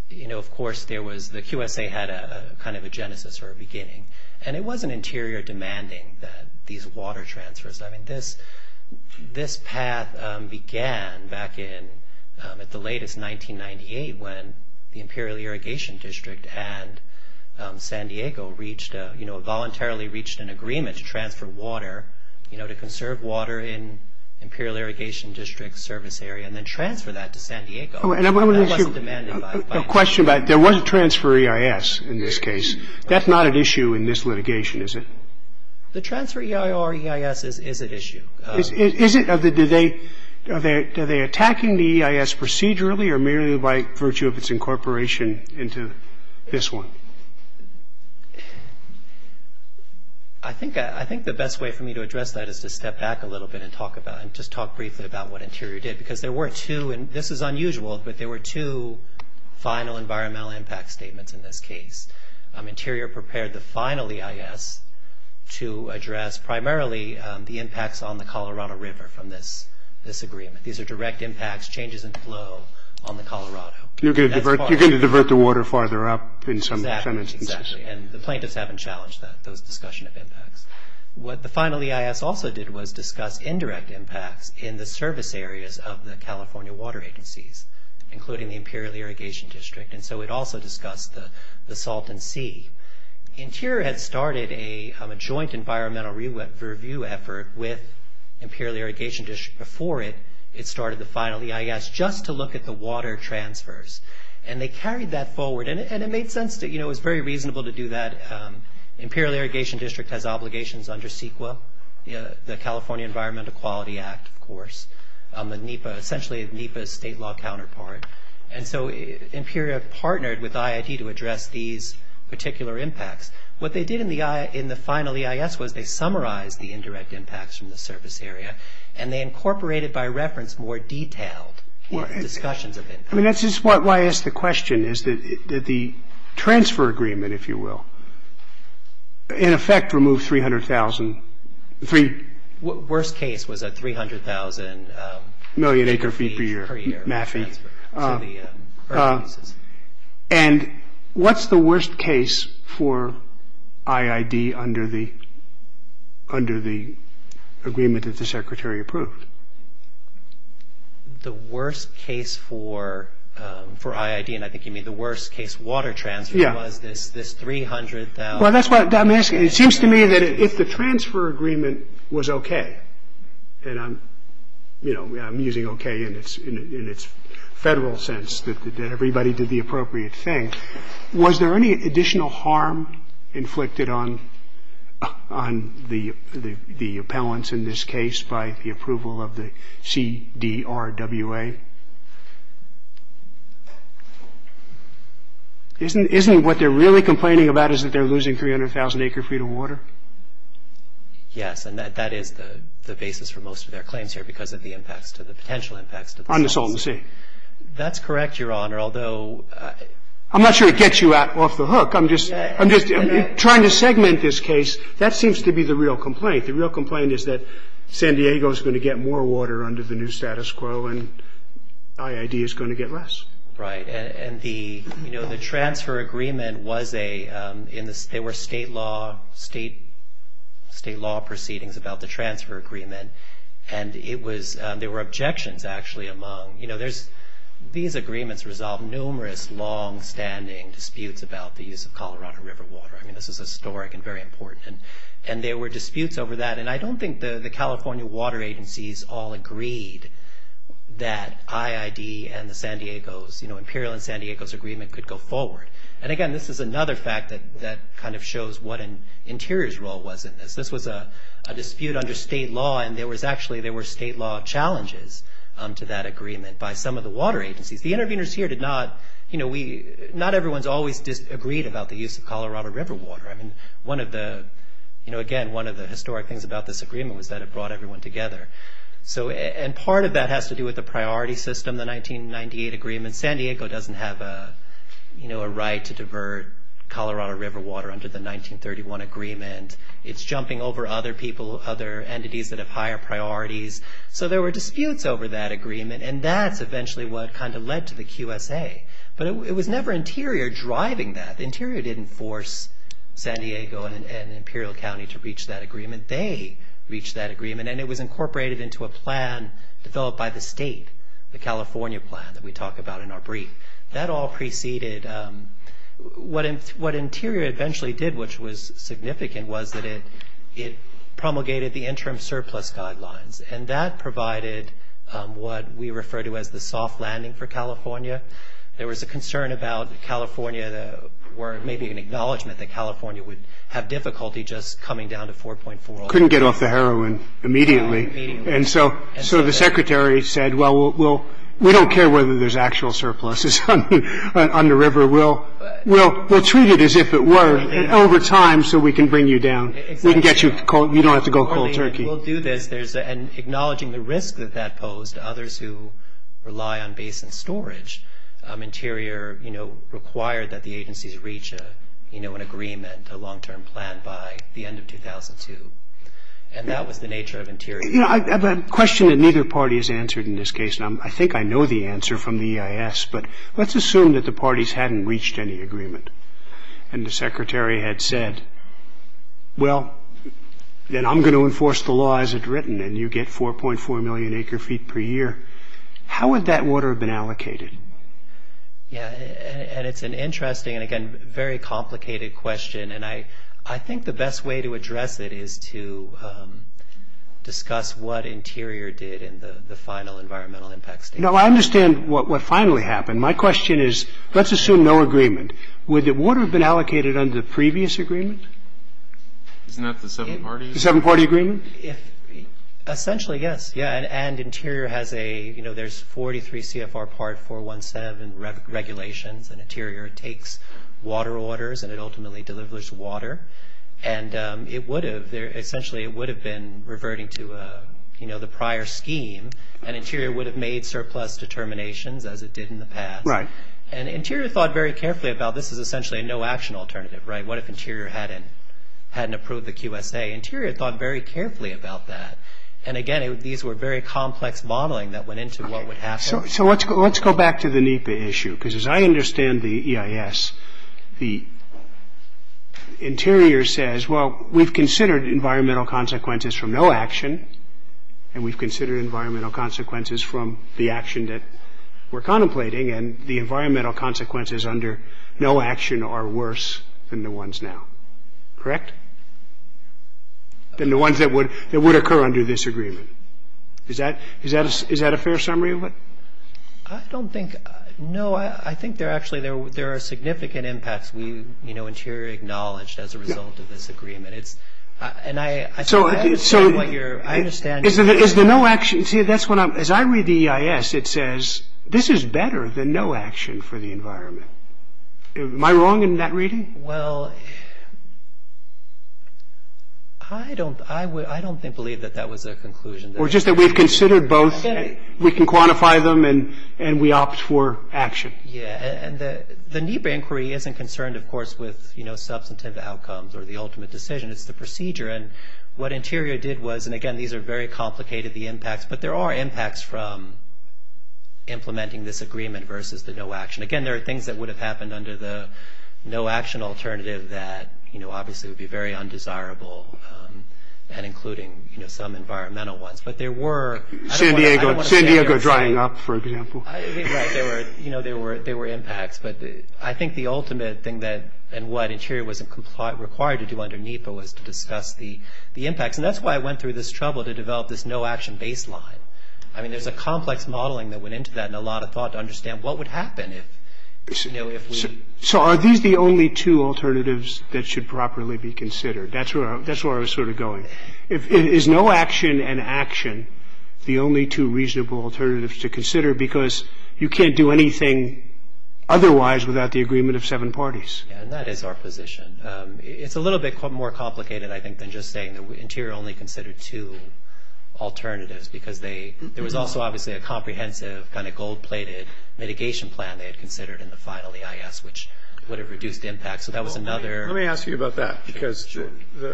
you know, of course there was, the QSA had a kind of a genesis or a beginning and it wasn't Interior demanding these water transfers. I mean, this path began back in the latest 1998 when the Imperial Irrigation District and San Diego reached, you know, voluntarily reached an agreement to transfer water, you know, to conserve water in Imperial Irrigation District service area and then transfer that to San Diego. And I'm going to ask you a question about, there was a transfer EIS in this case. That's not an issue in this litigation, is it? The transfer EIR or EIS is an issue. Is it? Are they attacking the EIS procedurally or merely by virtue of its incorporation into this one? I think the best way for me to address that is to step back a little bit and talk about it and just talk briefly about what Interior did because there were two and this is unusual but there were two final environmental impact statements in this case. Interior prepared the final EIS to address primarily the impacts on the Colorado River from this agreement. These are direct impacts, changes in flow on the Colorado. You're going to divert the water farther up in some sentences. Exactly. And the plaintiffs haven't challenged that discussion of impact. What the final EIS also did was discuss indirect impact in the service areas of the California Water Agencies including the Imperial Irrigation District. And so it also discussed the salt and sea. Interior had started a joint environmental review effort with Imperial Irrigation District. Before it, it started the final EIS just to look at the water transfers. And they carried that forward. And it made sense that, you know, it's very reasonable to do that. Imperial Irrigation District has obligations under CEQA, the California Environment Equality Act, of course, essentially is NEPA's state law counterpart. And so Imperial partnered with IIT to address these particular impacts. What they did in the final EIS was they summarized the indirect impacts from the service area and they incorporated by reference more detailed discussions of impact. This is why I ask the question is that the transfer agreement, if you will, in effect removed 300,000. Worst case was that 300,000. Million acre feet per year mapping. And what's the worst case for IID under the agreement that the secretary approved? The worst case for IID and I think you mean the worst case water transfer was this 300,000. Well, that's what I'm asking. It seems to me that if the transfer agreement was okay. And I'm, you know, I'm using okay in its federal sense that everybody did the appropriate thing. Was there any additional harm inflicted on the appellants in this case by the approval of the CDRWA? Isn't what they're really complaining about is that they're losing 300,000 acre feet of water? Yes, and that is the basis for most of their claims here because of the impacts or the potential impacts on the salt and sea. That's correct, Your Honor, although. I'm not sure it gets you off the hook. I'm just trying to segment this case. That seems to be the real complaint. The real complaint is that San Diego is going to get more water under the new status quo and IID is going to get less. Right, and the, you know, the transfer agreement was a, there were state law proceedings about the transfer agreement and there were objections actually among, you know, these agreements resolved numerous longstanding disputes about the use of Colorado River water. I mean, this is historic and very important. And there were disputes over that. And I don't think the California water agencies all agreed that IID and the San Diego's, you know, Imperial and San Diego's agreement could go forward. And, again, this is another fact that kind of shows what an interior's role was in this. This was a dispute under state law and there was actually, there were state law challenges to that agreement by some of the water agencies. The interveners here did not, you know, we, not everyone's always disagreed about the use of Colorado River water. I mean, one of the, you know, again, one of the historic things about this agreement was that it brought everyone together. So, and part of that has to do with the priority system, the 1998 agreement. San Diego doesn't have a, you know, a right to divert Colorado River water under the 1931 agreement. It's jumping over other people, other entities that have higher priorities. So, there were disputes over that agreement and that's eventually what kind of led to the QSA. But it was never interior driving that. Interior didn't force San Diego and Imperial County to reach that agreement. They reached that agreement and it was incorporated into a plan developed by the state, the California plan that we talk about in our brief. That all preceded, what interior eventually did, which was significant was that it promulgated the interim surplus guidelines and that provided what we refer to as the soft landing for California. There was a concern about California, or maybe an acknowledgement that California would have difficulty just coming down to 4.4. Couldn't get off the heroin immediately. And so, the secretary said, well, we'll, we don't care whether there's actual surpluses on the river. We'll treat it as if it were over time so we can bring you down. We can get you, you don't have to go cold turkey. And acknowledging the risk that that posed to others who rely on basement storage, interior, you know, required that the agency reach an agreement, a long-term plan by the end of 2002. And that was the nature of interior. I have a question that neither party has answered in this case. I think I know the answer from the EIS, but let's assume that the parties hadn't reached any agreement. And the secretary had said, well, then I'm going to enforce the law as it's written and you get 4.4 million acre feet per year. How would that water have been allocated? Yeah, and it's an interesting, and again, very complicated question. And I think the best way to address it is to discuss what interior did in the final environmental impact statement. No, I understand what finally happened. My question is, let's assume no agreement. Would the water have been allocated under the previous agreement? Isn't that the seven-party agreement? Essentially, yes. Yeah, and interior has a, you know, there's 43 CFR Part 417 regulations and interior takes water orders and it ultimately delivers water. And it would have, essentially, it would have been reverting to, you know, the prior scheme and interior would have made surplus determinations as it did in the past. And interior thought very carefully about this is essentially a no-action alternative, right? What if interior hadn't approved the QSA? Interior thought very carefully about that. And again, these were very complex modeling that went into what would happen. So let's go back to the NEPA issue, because as I understand the EIS, the interior says, well, we've considered environmental consequences from no action and we've considered environmental consequences from the action that we're contemplating and the environmental consequences under no action are worse than the ones now, correct? Than the ones that would occur under this agreement. Is that a fair summary of it? I don't think, no, I think there actually, there are significant impacts we, you know, interior acknowledged as a result of this agreement. And I understand what you're, I understand. Is the no action, see, that's what I'm, as I read the EIS, it says, this is better than no action for the environment. Am I wrong in that reading? Well, I don't, I would, I don't think, believe that that was a conclusion. Or just that we've considered both, we can quantify them and we opt for action. Yeah, and the NEPA inquiry isn't concerned, of course, with, you know, the substantive outcomes or the ultimate decision, it's the procedure. And what Interior did was, and again, these are very complicated, the impacts, but there are impacts from implementing this agreement versus the no action. Again, there are things that would have happened under the no action alternative that, you know, obviously would be very undesirable and including, you know, some environmental ones. But there were. San Diego, San Diego drying up, for example. Yeah, there were, you know, there were impacts. But I think the ultimate thing that and what Interior was required to do underneath was to discuss the impacts. And that's why I went through this trouble to develop this no action baseline. I mean, there's a complex modeling that went into that and a lot of thought to understand what would happen if, you know, if we. So are these the only two alternatives that should properly be considered? That's where I was sort of going. Is no action and action the only two reasonable alternatives to consider? Because you can't do anything otherwise without the agreement of seven parties. And that is our position. It's a little bit more complicated, I think, than just saying that Interior only considered two alternatives because there was also obviously a comprehensive kind of gold-plated mitigation plan they had considered in the final EIS, which would have reduced impact. So that was another. Let me ask you about that because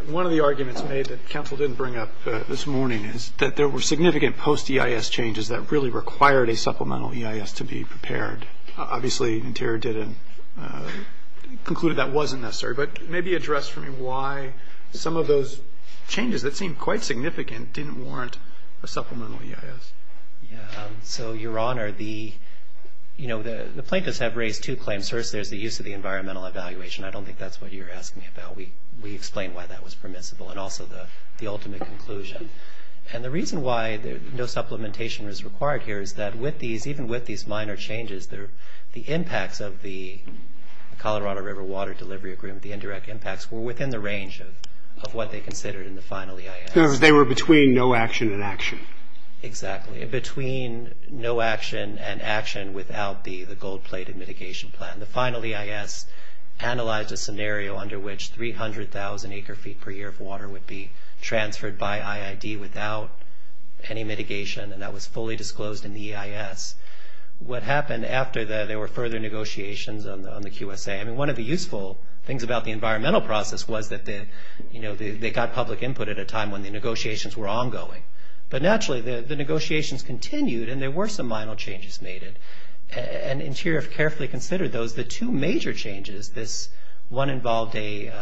one of the arguments that Council didn't bring up this morning is that there were significant post-EIS changes that really required a supplemental EIS to be prepared. Obviously, Interior didn't conclude that wasn't necessary, but maybe address for me why some of those changes that seemed quite significant didn't warrant a supplemental EIS. So, Your Honor, the plaintiffs had raised two claims. First, there's the use of the environmental evaluation. I don't think that's what you're asking about. We explained why that was permissible and also the ultimate conclusion. And the reason why no supplementation was required here is that even with these minor changes, the impacts of the Colorado River Water Delivery Agreement, the indirect impacts, were within the range of what they considered in the final EIS. They were between no action and action. Exactly. Between no action and action without the gold-plated mitigation plan. And the final EIS analyzed a scenario under which 300,000 acre-feet per year of water would be transferred by IID without any mitigation, and that was fully disclosed in the EIS. What happened after that, there were further negotiations on the QSA. I mean, one of the useful things about the environmental process was that, you know, they got public input at a time when the negotiations were ongoing. But naturally, the negotiations continued, and there were some minor changes made. And Interior carefully considered those. The two major changes, this one involved a,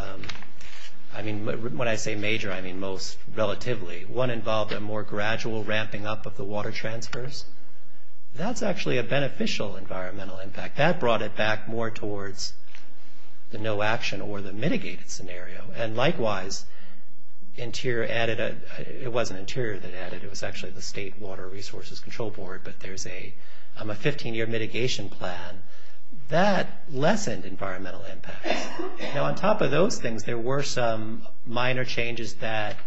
I mean, when I say major, I mean most relatively. One involved a more gradual ramping up of the water transfers. That's actually a beneficial environmental impact. That brought it back more towards the no action or the mitigated scenario. And likewise, Interior added a, it wasn't Interior that added, it was actually the State Water Resources Control Board, but there's a 15-year mitigation plan. That lessened environmental impact. Now, on top of those things, there were some minor changes that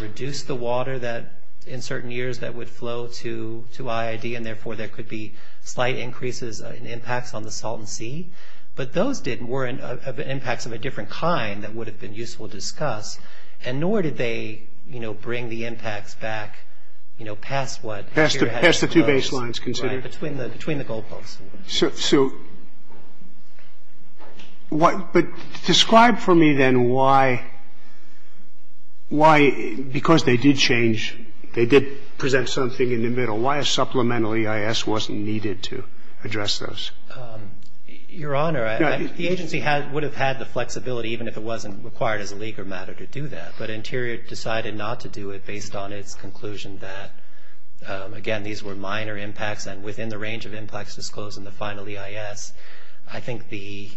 reduced the water that in certain years that would flow to IID, and therefore there could be slight increases in impacts on the Salton Sea. But those weren't impacts of a different kind that would have been useful to discuss, and nor did they, you know, bring the impacts back, you know, past what Interior had proposed. Past the two baselines considered. Right, between the goal posts. So, but describe for me then why, because they did change, they did present something in the middle, why a supplemental EIS wasn't needed to address those. Your Honor, I think the agency would have had the flexibility, even if it wasn't required as a legal matter to do that. But Interior decided not to do it based on its conclusion that, again, these were minor impacts, and within the range of impacts disclosed in the final EIS, I think the,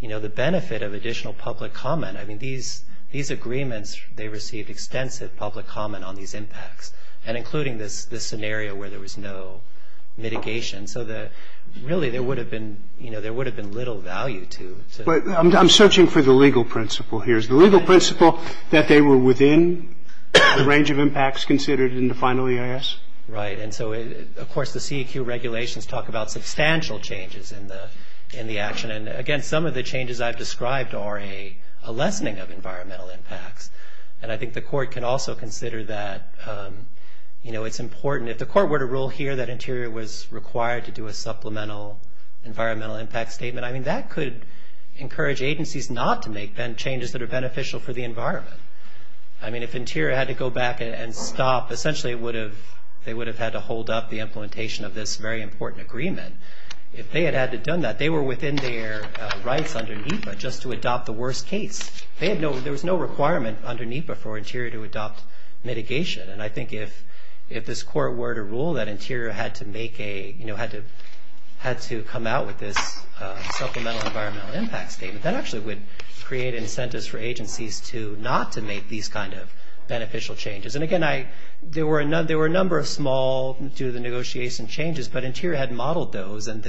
you know, the benefit of additional public comment, I mean, these agreements, they received extensive public comment on these impacts, and including this scenario where there was no mitigation. So, really, there would have been, you know, there would have been little value to. I'm searching for the legal principle here. Is the legal principle that they were within the range of impacts considered in the final EIS? Right. And so, of course, the CEQ regulations talk about substantial changes in the action. And, again, some of the changes I've described are a lessening of environmental impacts. And I think the Court could also consider that, you know, it's important. I mean, if the Court were to rule here that Interior was required to do a supplemental environmental impact statement, I mean, that could encourage agencies not to make then changes that are beneficial for the environment. I mean, if Interior had to go back and stop, essentially, it would have, they would have had to hold up the implementation of this very important agreement. If they had had to have done that, they were within their rights under NEPA just to adopt the worst case. They had no, there was no requirement under NEPA for Interior to adopt mitigation. And I think if this Court were to rule that Interior had to make a, you know, had to come out with this supplemental environmental impact statement, that actually would create incentives for agencies to not to make these kind of beneficial changes. And, again, there were a number of small due to the negotiation changes, but Interior had modeled those. And,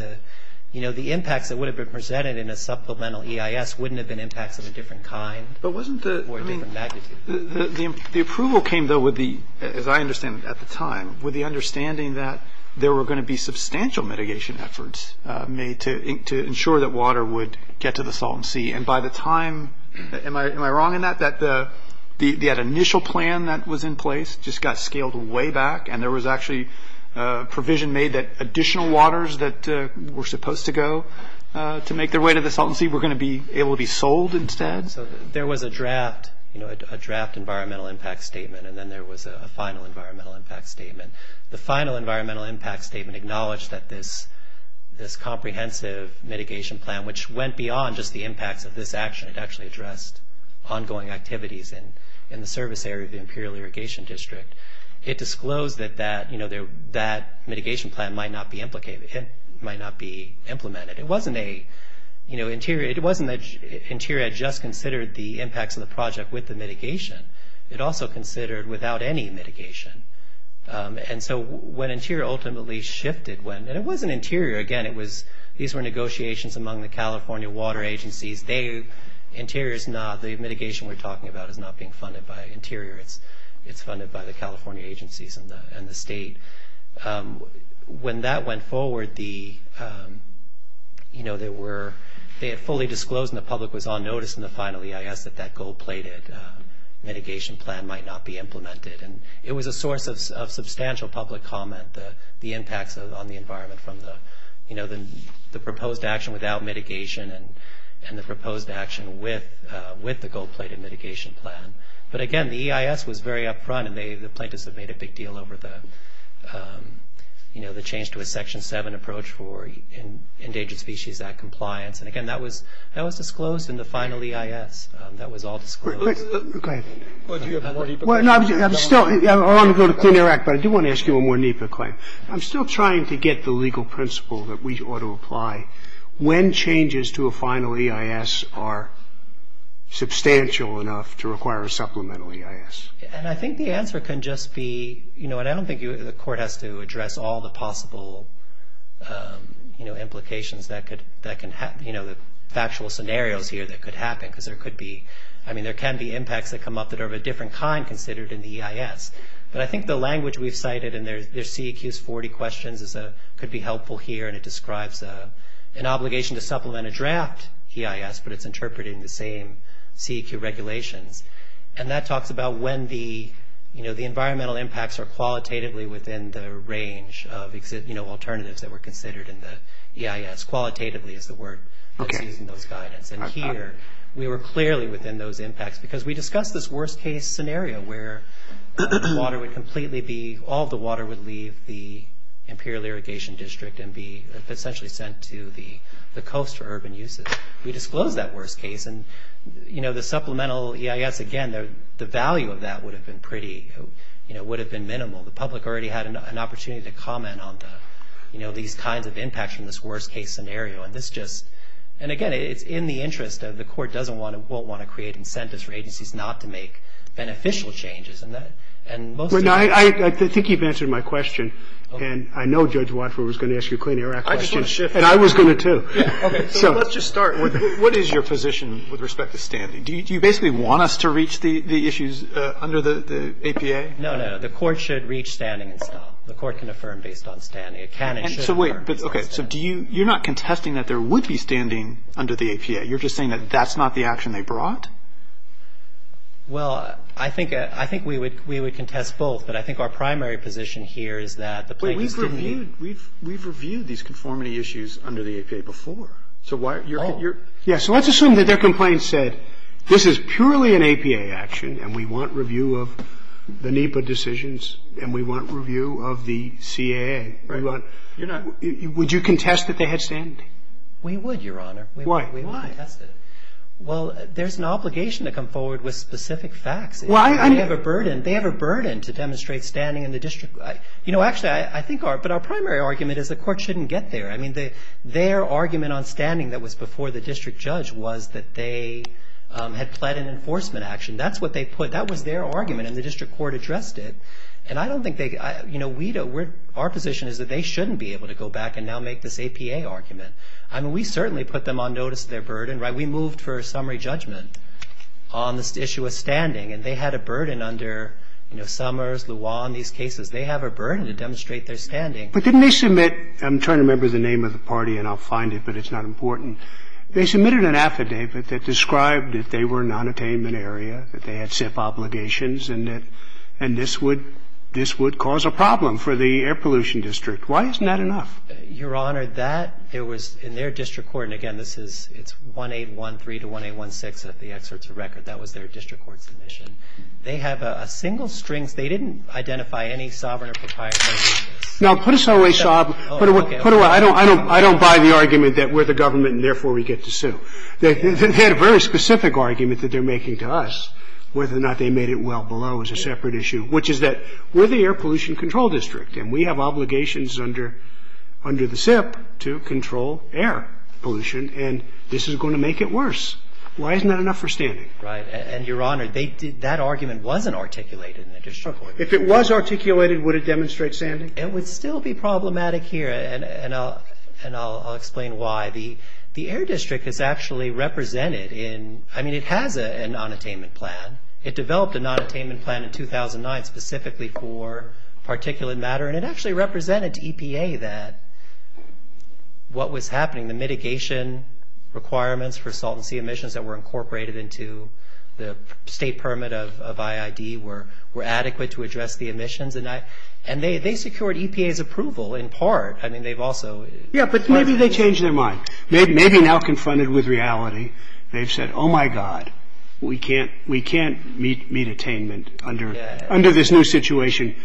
you know, the impact that would have been presented in a supplemental EIS wouldn't have been impacted of a different kind or a different magnitude. The approval came, though, with the, as I understand, at the time, with the understanding that there were going to be substantial mitigation efforts made to ensure that water would get to the Salton Sea. And by the time, am I wrong in that, that the initial plan that was in place just got scaled way back and there was actually a provision made that additional waters that were supposed to go to make their way to the Salton Sea were going to be able to be sold instead? So there was a draft, you know, a draft environmental impact statement and then there was a final environmental impact statement. The final environmental impact statement acknowledged that this comprehensive mitigation plan, which went beyond just the impact of this action, it actually addressed ongoing activities in the service area of the Imperial Irrigation District. It disclosed that that, you know, that mitigation plan might not be implicated, might not be implemented. It wasn't a, you know, Interior, it wasn't that Interior had just considered the impacts of the project with the mitigation. It also considered without any mitigation. And so when Interior ultimately shifted, when, and it wasn't Interior, again, it was, these were negotiations among the California Water Agencies. They, Interior is not, the mitigation we're talking about is not being funded by Interior. It's funded by the California agencies and the state. When that went forward, the, you know, they were, they had fully disclosed and the public was on notice in the final EIS that that gold-plated mitigation plan might not be implemented. And it was a source of substantial public comment, the impacts on the environment from the, you know, the proposed action without mitigation and the proposed action with the gold-plated mitigation plan. But again, the EIS was very upfront and they, the plaintiffs had made a big deal over the, you know, the change to a Section 7 approach for Endangered Species Act compliance. And again, that was, that was disclosed in the final EIS. That was all disclosed. Go ahead. Well, I'm still, I want to go to Clean Air Act, but I do want to ask you a more deeper claim. I'm still trying to get the legal principle that we ought to apply when changes to a final EIS are substantial enough to require a supplemental EIS. And I think the answer can just be, you know, and I don't think the court has to address all the possible, you know, implications that could, that can happen, you know, factual scenarios here that could happen because there could be, I mean, there can be impacts that come up that are of a different kind considered in the EIS. But I think the language we cited in their CEQs 40 questions could be helpful here and it describes an obligation to supplement a draft EIS, but it's interpreted in the same CEQ regulations. And that talks about when the, you know, the environmental impacts are qualitatively within the range of, you know, alternatives that were considered in the EIS. Qualitatively is the word. Okay. And here, we were clearly within those impacts because we discussed this worst case scenario where water would completely be, all the water would leave the Imperial Irrigation District and be essentially sent to the coast for urban uses. We disclosed that worst case and, you know, the supplemental EIS, again, the value of that would have been pretty, you know, would have been minimal. The public already had an opportunity to comment on, you know, these kinds of impacts from this worst case scenario. And this just, and again, it's in the interest of the court doesn't want to, won't want to create incentives for agencies not to make beneficial changes. I think you've answered my question. And I know Judge Watford was going to ask you a Clean Air Act question. And I was going to too. Okay. So let's just start. What is your position with respect to standing? Do you basically want us to reach the issues under the APA? No, no. The court should reach standing. The court can affirm based on standing. So wait. Okay. So do you, you're not contesting that there would be standing under the APA. You're just saying that that's not the action they brought? Well, I think we would contest both. But I think our primary position here is that the plaintiff should be. We've reviewed these conformity issues under the APA before. So why are you. Yeah. So let's assume that their complaint said, this is purely an APA action. And we want review of the NEPA decisions. And we want review of the CAA. We would, Your Honor. Why? Why? Well, there's an obligation to come forward with specific facts. Well, I. They have a burden. They have a burden to demonstrate standing in the district. You know, actually, I think our. But our primary argument is the court shouldn't get there. I mean, their argument on standing that was before the district judge was that they had fled an enforcement action. That's what they put. That was their argument. And the district court addressed it. And I don't think they. You know, we don't. Our position is that they shouldn't be able to go back and now make this APA argument. I mean, we certainly put them on notice of their burden. We moved for a summary judgment on this issue of standing. And they had a burden under Summers, the law, and these cases. They have a burden to demonstrate their standing. But didn't they submit. I'm trying to remember the name of the party, and I'll find it, but it's not important. They submitted an affidavit that described that they were an unattainment area, that they had SIF obligations. And that and this would this would cause a problem for the air pollution district. Why isn't that enough? Your Honor. That there was in their district court. And again, this is it's 1813 to 1816. That's the experts record. That was their district court commission. They have a single string. They didn't identify any sovereign or proprietary. Now, put us away. Put away. I don't buy the argument that we're the government and therefore we get to sue. They had a very specific argument that they're making to us. Whether or not they made it well below is a separate issue, which is that we're the air pollution control district. And we have obligations under the SIF to control air pollution. And this is going to make it worse. Why isn't that enough for standing? Right. And, Your Honor, that argument wasn't articulated in the district court. If it was articulated, would it demonstrate standing? It would still be problematic here. And I'll explain why. The air district is actually represented in, I mean, it has an unattainment plan. It developed an unattainment plan in 2009 specifically for particulate matter. And it actually represented to EPA that what was happening, the mitigation requirements for salt and sea emissions that were incorporated into the state permit of IID were adequate to address the emissions. And they secured EPA's approval in part. I mean, they've also. Yeah, but maybe they changed their mind. Maybe now confronted with reality. They've said, oh, my God, we can't meet attainment under this new situation.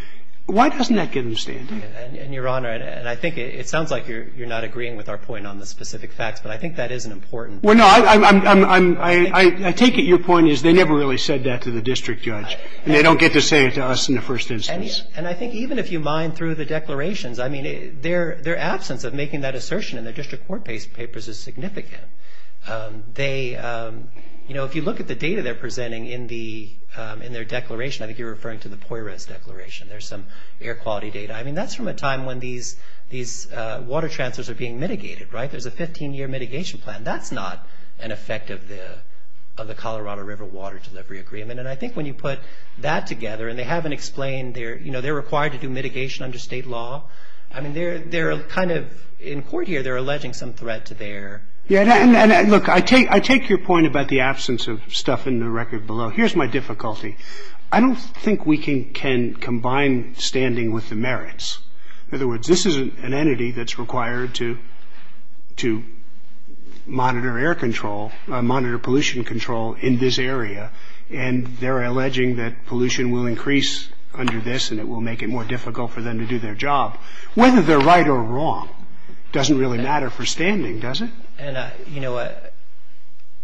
Why doesn't that get them standing? And, Your Honor, and I think it sounds like you're not agreeing with our point on the specific facts, but I think that is an important point. Well, no, I take it your point is they never really said that to the district judge. And they don't get to say it to us in the first instance. And I think even if you mine through the declarations, I mean, their absence of making that assertion in the district court papers is significant. They, you know, if you look at the data they're presenting in their declaration, I think you're referring to the Poirot's declaration. There's some air quality data. I mean, that's from a time when these water transfers are being mitigated, right? There's a 15-year mitigation plan. That's not an effect of the Colorado River water delivery agreement. And I think when you put that together and they haven't explained their, you know, they're required to do mitigation under state law, I mean, they're kind of, in court here, they're alleging some threat to their. Yeah, and look, I take your point about the absence of stuff in the record below. Here's my difficulty. I don't think we can combine standing with the merits. In other words, this is an entity that's required to monitor air control, monitor pollution control in this area, and they're alleging that pollution will increase under this and it will make it more difficult for them to do their job. Whether they're right or wrong doesn't really matter for standing, does it? And, you know,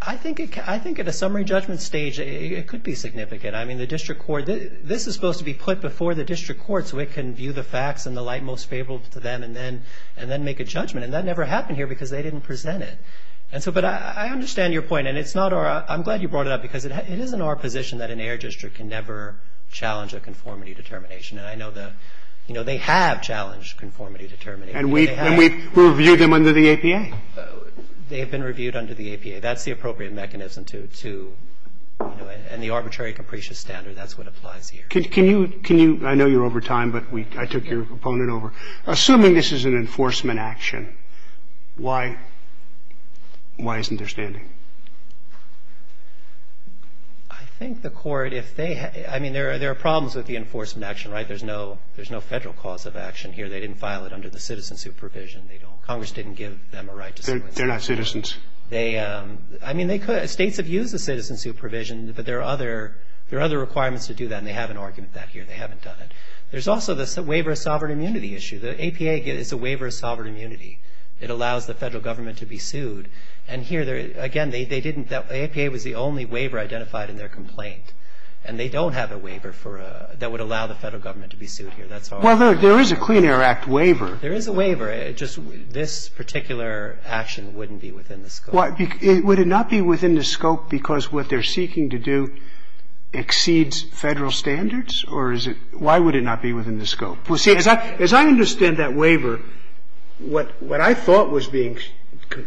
I think at a summary judgment stage it could be significant. I mean, the district court, this is supposed to be put before the district court so it can view the facts in the light most favorable to them and then make a judgment. And that never happened here because they didn't present it. But I understand your point, and I'm glad you brought it up because it is in our position that an air district can never challenge a conformity determination, and I know they have challenged conformity determinations. And we've reviewed them under the APA. They've been reviewed under the APA. That's the appropriate mechanism to do it, and the arbitrary capricious standard, that's what applies here. Can you, I know you're over time, but I took your opponent over. Assuming this is an enforcement action, why isn't there standing? I think the court, if they, I mean, there are problems with the enforcement action, right? There's no federal cause of action here. They didn't file it under the citizen supervision. Congress didn't give them a right to do it. They're not citizens. I mean, they could. States have used the citizen supervision, but there are other requirements to do that, and they have an argument back here. They haven't done it. There's also the waiver of sovereign immunity issue. The APA gives a waiver of sovereign immunity. It allows the federal government to be sued. And here, again, the APA was the only waiver identified in their complaint, and they don't have a waiver that would allow the federal government to be sued here. Well, there is a Clean Air Act waiver. There is a waiver. It's just this particular action wouldn't be within the scope. Would it not be within the scope because what they're seeking to do exceeds federal standards? Or is it why would it not be within the scope? Well, see, as I understand that waiver, what I thought was being –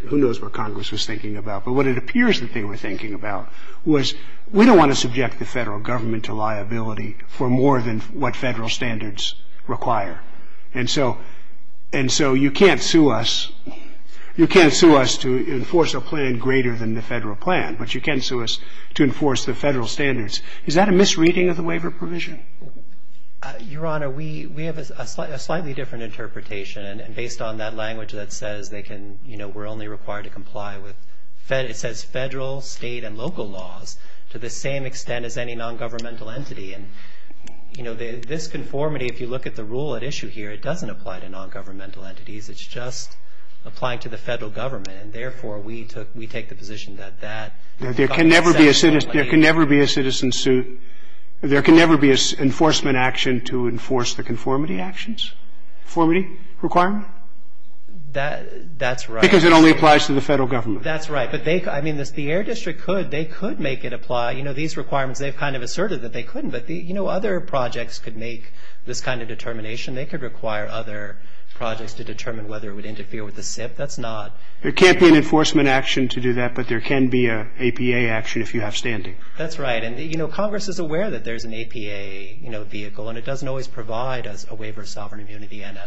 who knows what Congress was thinking about, but what it appears that they were thinking about was we don't want to subject the federal government to liability for more than what federal standards require. And so you can't sue us. You can't sue us to enforce a plan greater than the federal plan, but you can sue us to enforce the federal standards. Is that a misreading of the waiver provision? Your Honor, we have a slightly different interpretation, and based on that language that says they can – you know, we're only required to comply with – it says federal, state, and local laws to the same extent as any non-governmental entity. And, you know, this conformity, if you look at the rule at issue here, it doesn't apply to non-governmental entities. It's just applying to the federal government, and therefore we take the position that that – There can never be a citizen suit – there can never be an enforcement action to enforce the conformity actions? Conformity requirement? That's right. Because it only applies to the federal government. That's right, but they – I mean, if the Air District could, they could make it apply. You know, these requirements, they kind of asserted that they couldn't, but, you know, other projects could make this kind of determination. They could require other projects to determine whether it would interfere with the SIP. That's not – There can't be an enforcement action to do that, but there can be an APA action if you have standing. That's right. And, you know, Congress is aware that there's an APA, you know, vehicle, and it doesn't always provide a waiver of sovereign immunity and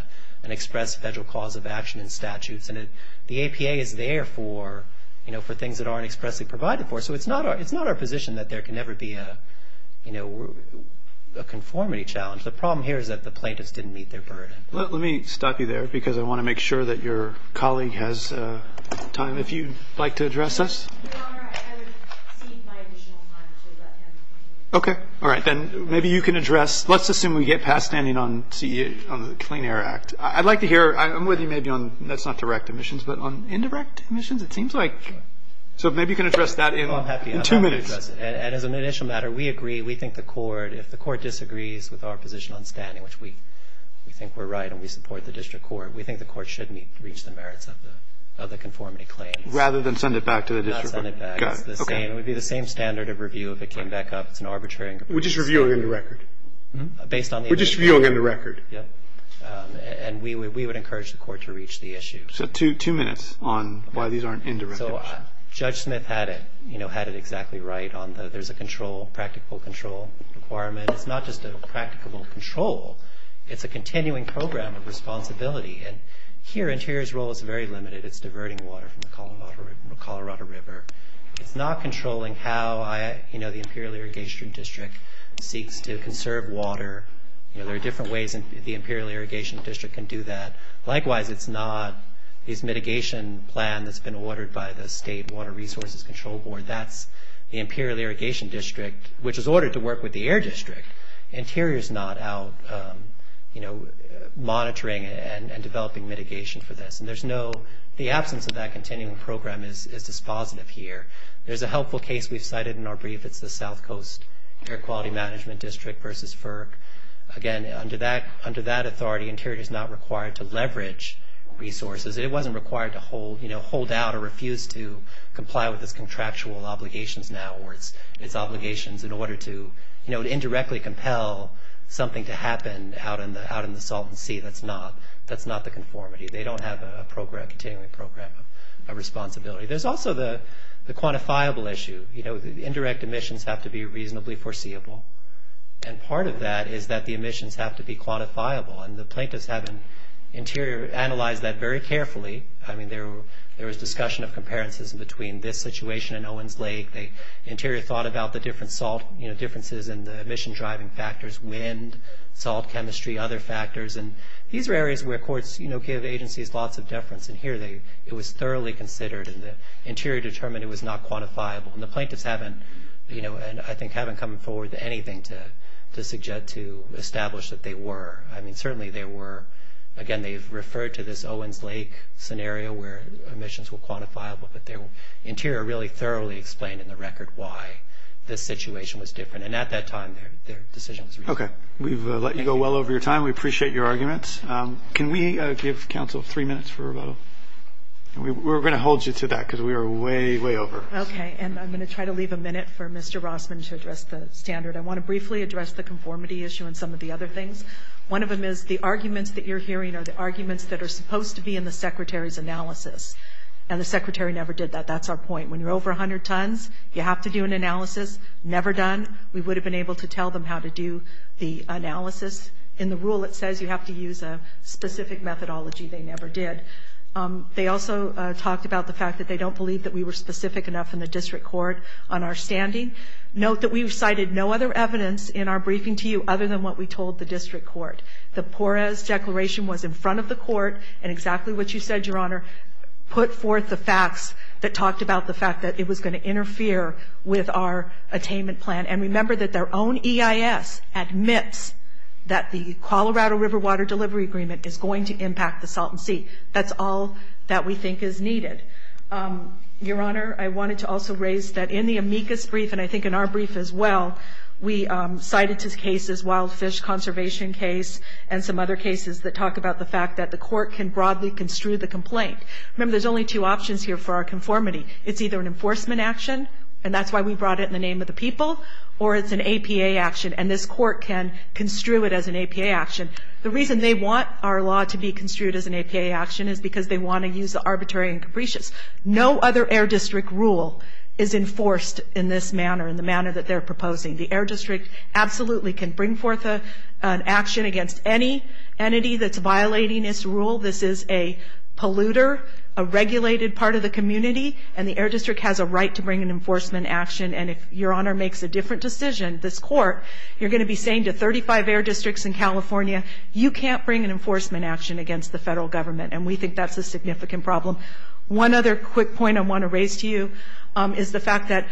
an express federal clause of action and statute. And the APA is there for, you know, for things that aren't expressly provided for. So it's not our position that there can never be a, you know, a conformity challenge. The problem here is that the plaintiffs didn't meet their burden. Let me stop you there because I want to make sure that your colleague has time. If you'd like to address this. Okay. All right. Then maybe you can address – let's assume we get past standing on the Clean Air Act. I'd like to hear – I'm with you maybe on – that's not direct emissions, but on indirect emissions, it seems like. So maybe you can address that in two minutes. And as an initial matter, we agree. We think the court – if the court disagrees with our position on standing, which we think we're right and we support the district court, we think the court shouldn't reach the merits of the conformity claim. Rather than send it back to the district court. Rather than send it back. Okay. It would be the same standard of review if it came back up. It's an arbitrary – We're just reviewing the record. Based on the – We're just reviewing the record. Yes. And we would encourage the court to reach the issue. So two minutes on why these aren't indirect emissions. So Judge Smith had it – you know, had it exactly right on the – there's a control – practical control requirement. It's not just a practical control. It's a continuing program of responsibility. And here, Interior's role is very limited. It's diverting water from the Colorado River. It's not controlling how, you know, the Imperial Irrigation District seeks to conserve water. You know, there are different ways the Imperial Irrigation District can do that. Likewise, it's not a mitigation plan that's been ordered by the State Water Resources Control Board. That's the Imperial Irrigation District, which is ordered to work with the Air District. Interior's not out, you know, monitoring and developing mitigation for this. And there's no – the absence of that continuing program is dispositive here. There's a helpful case we cited in our brief. It's the South Coast Air Quality Management District versus FERC. Again, under that authority, Interior's not required to leverage resources. It wasn't required to hold, you know, hold out or refuse to comply with its contractual obligations now or its obligations in order to, you know, indirectly compel something to happen out in the – out in the Salton Sea. That's not – that's not the conformity. They don't have a program – a continuing program of responsibility. There's also the quantifiable issue. You know, indirect emissions have to be reasonably foreseeable. And part of that is that the emissions have to be quantifiable. And the plaintiffs haven't – Interior analyzed that very carefully. I mean, there was discussion of comparisons between this situation and Owens Lake. Interior thought about the different salt, you know, differences in the emission-driving factors, wind, salt chemistry, other factors. And these are areas where courts, you know, give agencies lots of deference. And here it was thoroughly considered, and Interior determined it was not quantifiable. And the plaintiffs haven't, you know – and I think haven't come forward with anything to suggest to establish that they were. I mean, certainly they were – again, they referred to this Owens Lake scenario where emissions were quantifiable, but Interior really thoroughly explained in the record why this situation was different. And at that time, their decision was made. Okay. We've let you go well over your time. We appreciate your arguments. Can we give counsel three minutes for a little – we were going to hold you to that because we were way, way over. Okay. And I'm going to try to leave a minute for Mr. Rossman to address the standard. I want to briefly address the conformity issue and some of the other things. One of them is the arguments that you're hearing are the arguments that are supposed to be in the Secretary's analysis. And the Secretary never did that. That's our point. When you're over 100 tons, you have to do an analysis. Never done, we would have been able to tell them how to do the analysis. In the rule, it says you have to use a specific methodology. They never did. They also talked about the fact that they don't believe that we were specific enough in the district court on our standing. Note that we've cited no other evidence in our briefing to you other than what we told the district court. The PORES declaration was in front of the court and exactly what you said, Your Honor, put forth the facts that talked about the fact that it was going to interfere with our attainment plan. And remember that their own EIS admits that the Colorado River Water Delivery Agreement is going to impact the Salton Sea. That's all that we think is needed. Your Honor, I wanted to also raise that in the amicus brief, and I think in our brief as well, we cited two cases, wild fish conservation case and some other cases that talk about the fact that the court can broadly construe the complaint. Remember, there's only two options here for our conformity. It's either an enforcement action, and that's why we brought it in the name of the people, or it's an APA action, and this court can construe it as an APA action. The reason they want our law to be construed as an APA action is because they want to use the arbitrary and capricious. No other Air District rule is enforced in this manner, in the manner that they're proposing. The Air District absolutely can bring forth an action against any entity that's violating its rule. This is a polluter, a regulated part of the community, and the Air District has a right to bring an enforcement action. And if Your Honor makes a different decision, this court, you're going to be saying to 35 Air Districts in California, you can't bring an enforcement action against the federal government, and we think that's a significant problem. One other quick point I want to raise to you is the fact that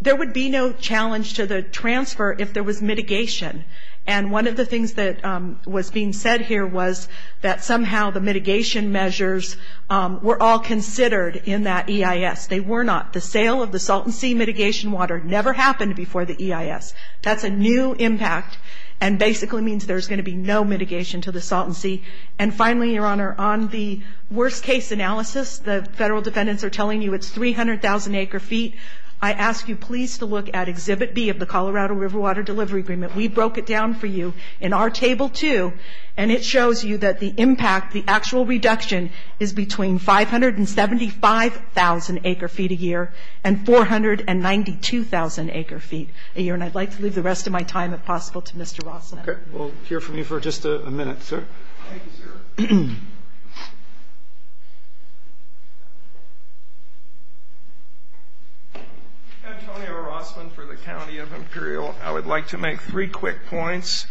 there would be no challenge to the transfer if there was mitigation. And one of the things that was being said here was that somehow the mitigation measures were all considered in that EIS. They were not. The sale of the salt and sea mitigation water never happened before the EIS. That's a new impact and basically means there's going to be no mitigation to the salt and sea. And finally, Your Honor, on the worst case analysis, the federal defendants are telling you it's 300,000 acre feet. I ask you please to look at Exhibit B of the Colorado River Water Delivery Agreement. We broke it down for you in our Table 2, and it shows you that the impact, the actual reduction, is between 575,000 acre feet a year and 492,000 acre feet a year. And I'd like to leave the rest of my time if possible to Mr. Rossman. Okay. We'll hear from you for just a minute, sir. Thank you, sir. Antonio Rossman for the County of Imperial. I would like to make three quick points.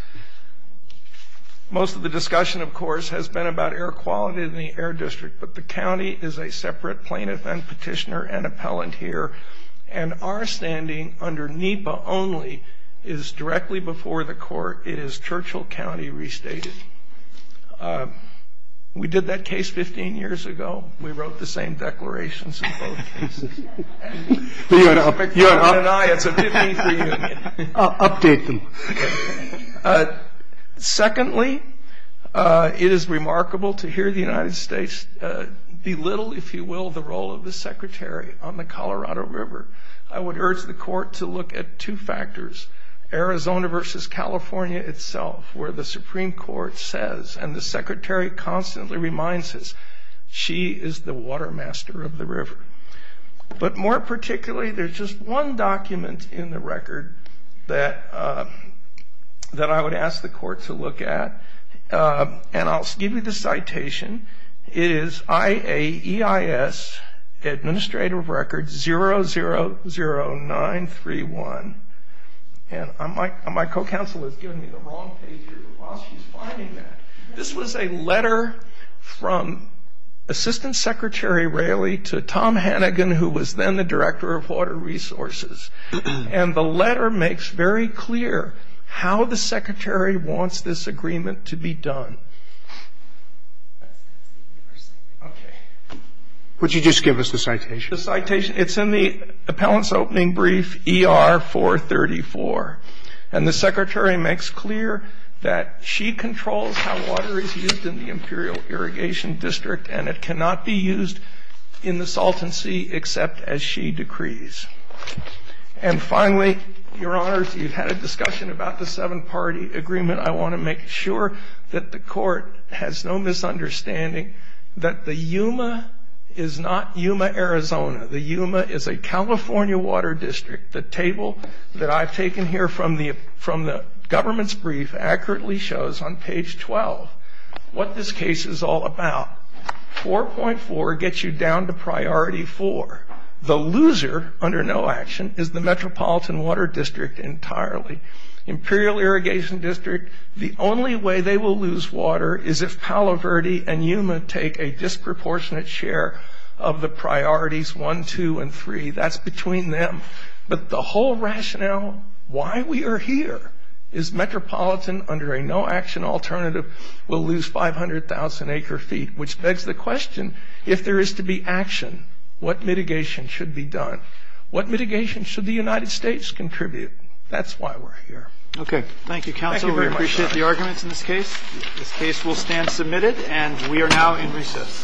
Most of the discussion, of course, has been about air quality in the Air District, but the county is a separate plaintiff and petitioner and appellant here, and our standing under NEPA only is directly before the court. It is Churchill County restated. We did that case 15 years ago. We wrote the same declarations. Secondly, it is remarkable to hear the United States belittle, if you will, the role of the secretary on the Colorado River. I would urge the court to look at two factors, Arizona versus California itself, where the Supreme Court says, and the secretary constantly reminds us, she is the water master of the river. But more particularly, there's just one document in the record that I would ask the court to look at. And I'll give you the citation. It is IAEIS Administrative Record 000931. And my co-counsel has given me the wrong page here. This was a letter from Assistant Secretary Raley to Tom Hannigan, who was then the Director of Water Resources. And the letter makes very clear how the secretary wants this agreement to be done. Would you just give us the citation? It's in the appellant's opening brief, ER-434. And the secretary makes clear that she controls how water is used in the Imperial Irrigation District, and it cannot be used in the Salton Sea except as she decrees. And finally, Your Honors, we've had a discussion about the seven-party agreement. I want to make sure that the court has no misunderstanding that the Yuma is not Yuma, Arizona. The Yuma is a California water district. The table that I've taken here from the government's brief accurately shows on page 12 what this case is all about. 4.4 gets you down to priority 4. The loser, under no action, is the Metropolitan Water District entirely. Imperial Irrigation District, the only way they will lose water is if Palo Verde and Yuma take a disproportionate share of the priorities 1, 2, and 3. That's between them. But the whole rationale why we are here is Metropolitan, under a no action alternative, will lose 500,000 acre feet, which begs the question, if there is to be action, what mitigation should be done? What mitigation should the United States contribute? That's why we're here. Okay. Thank you, Counselor. We appreciate the arguments in this case. This case will stand submitted, and we are now in recess.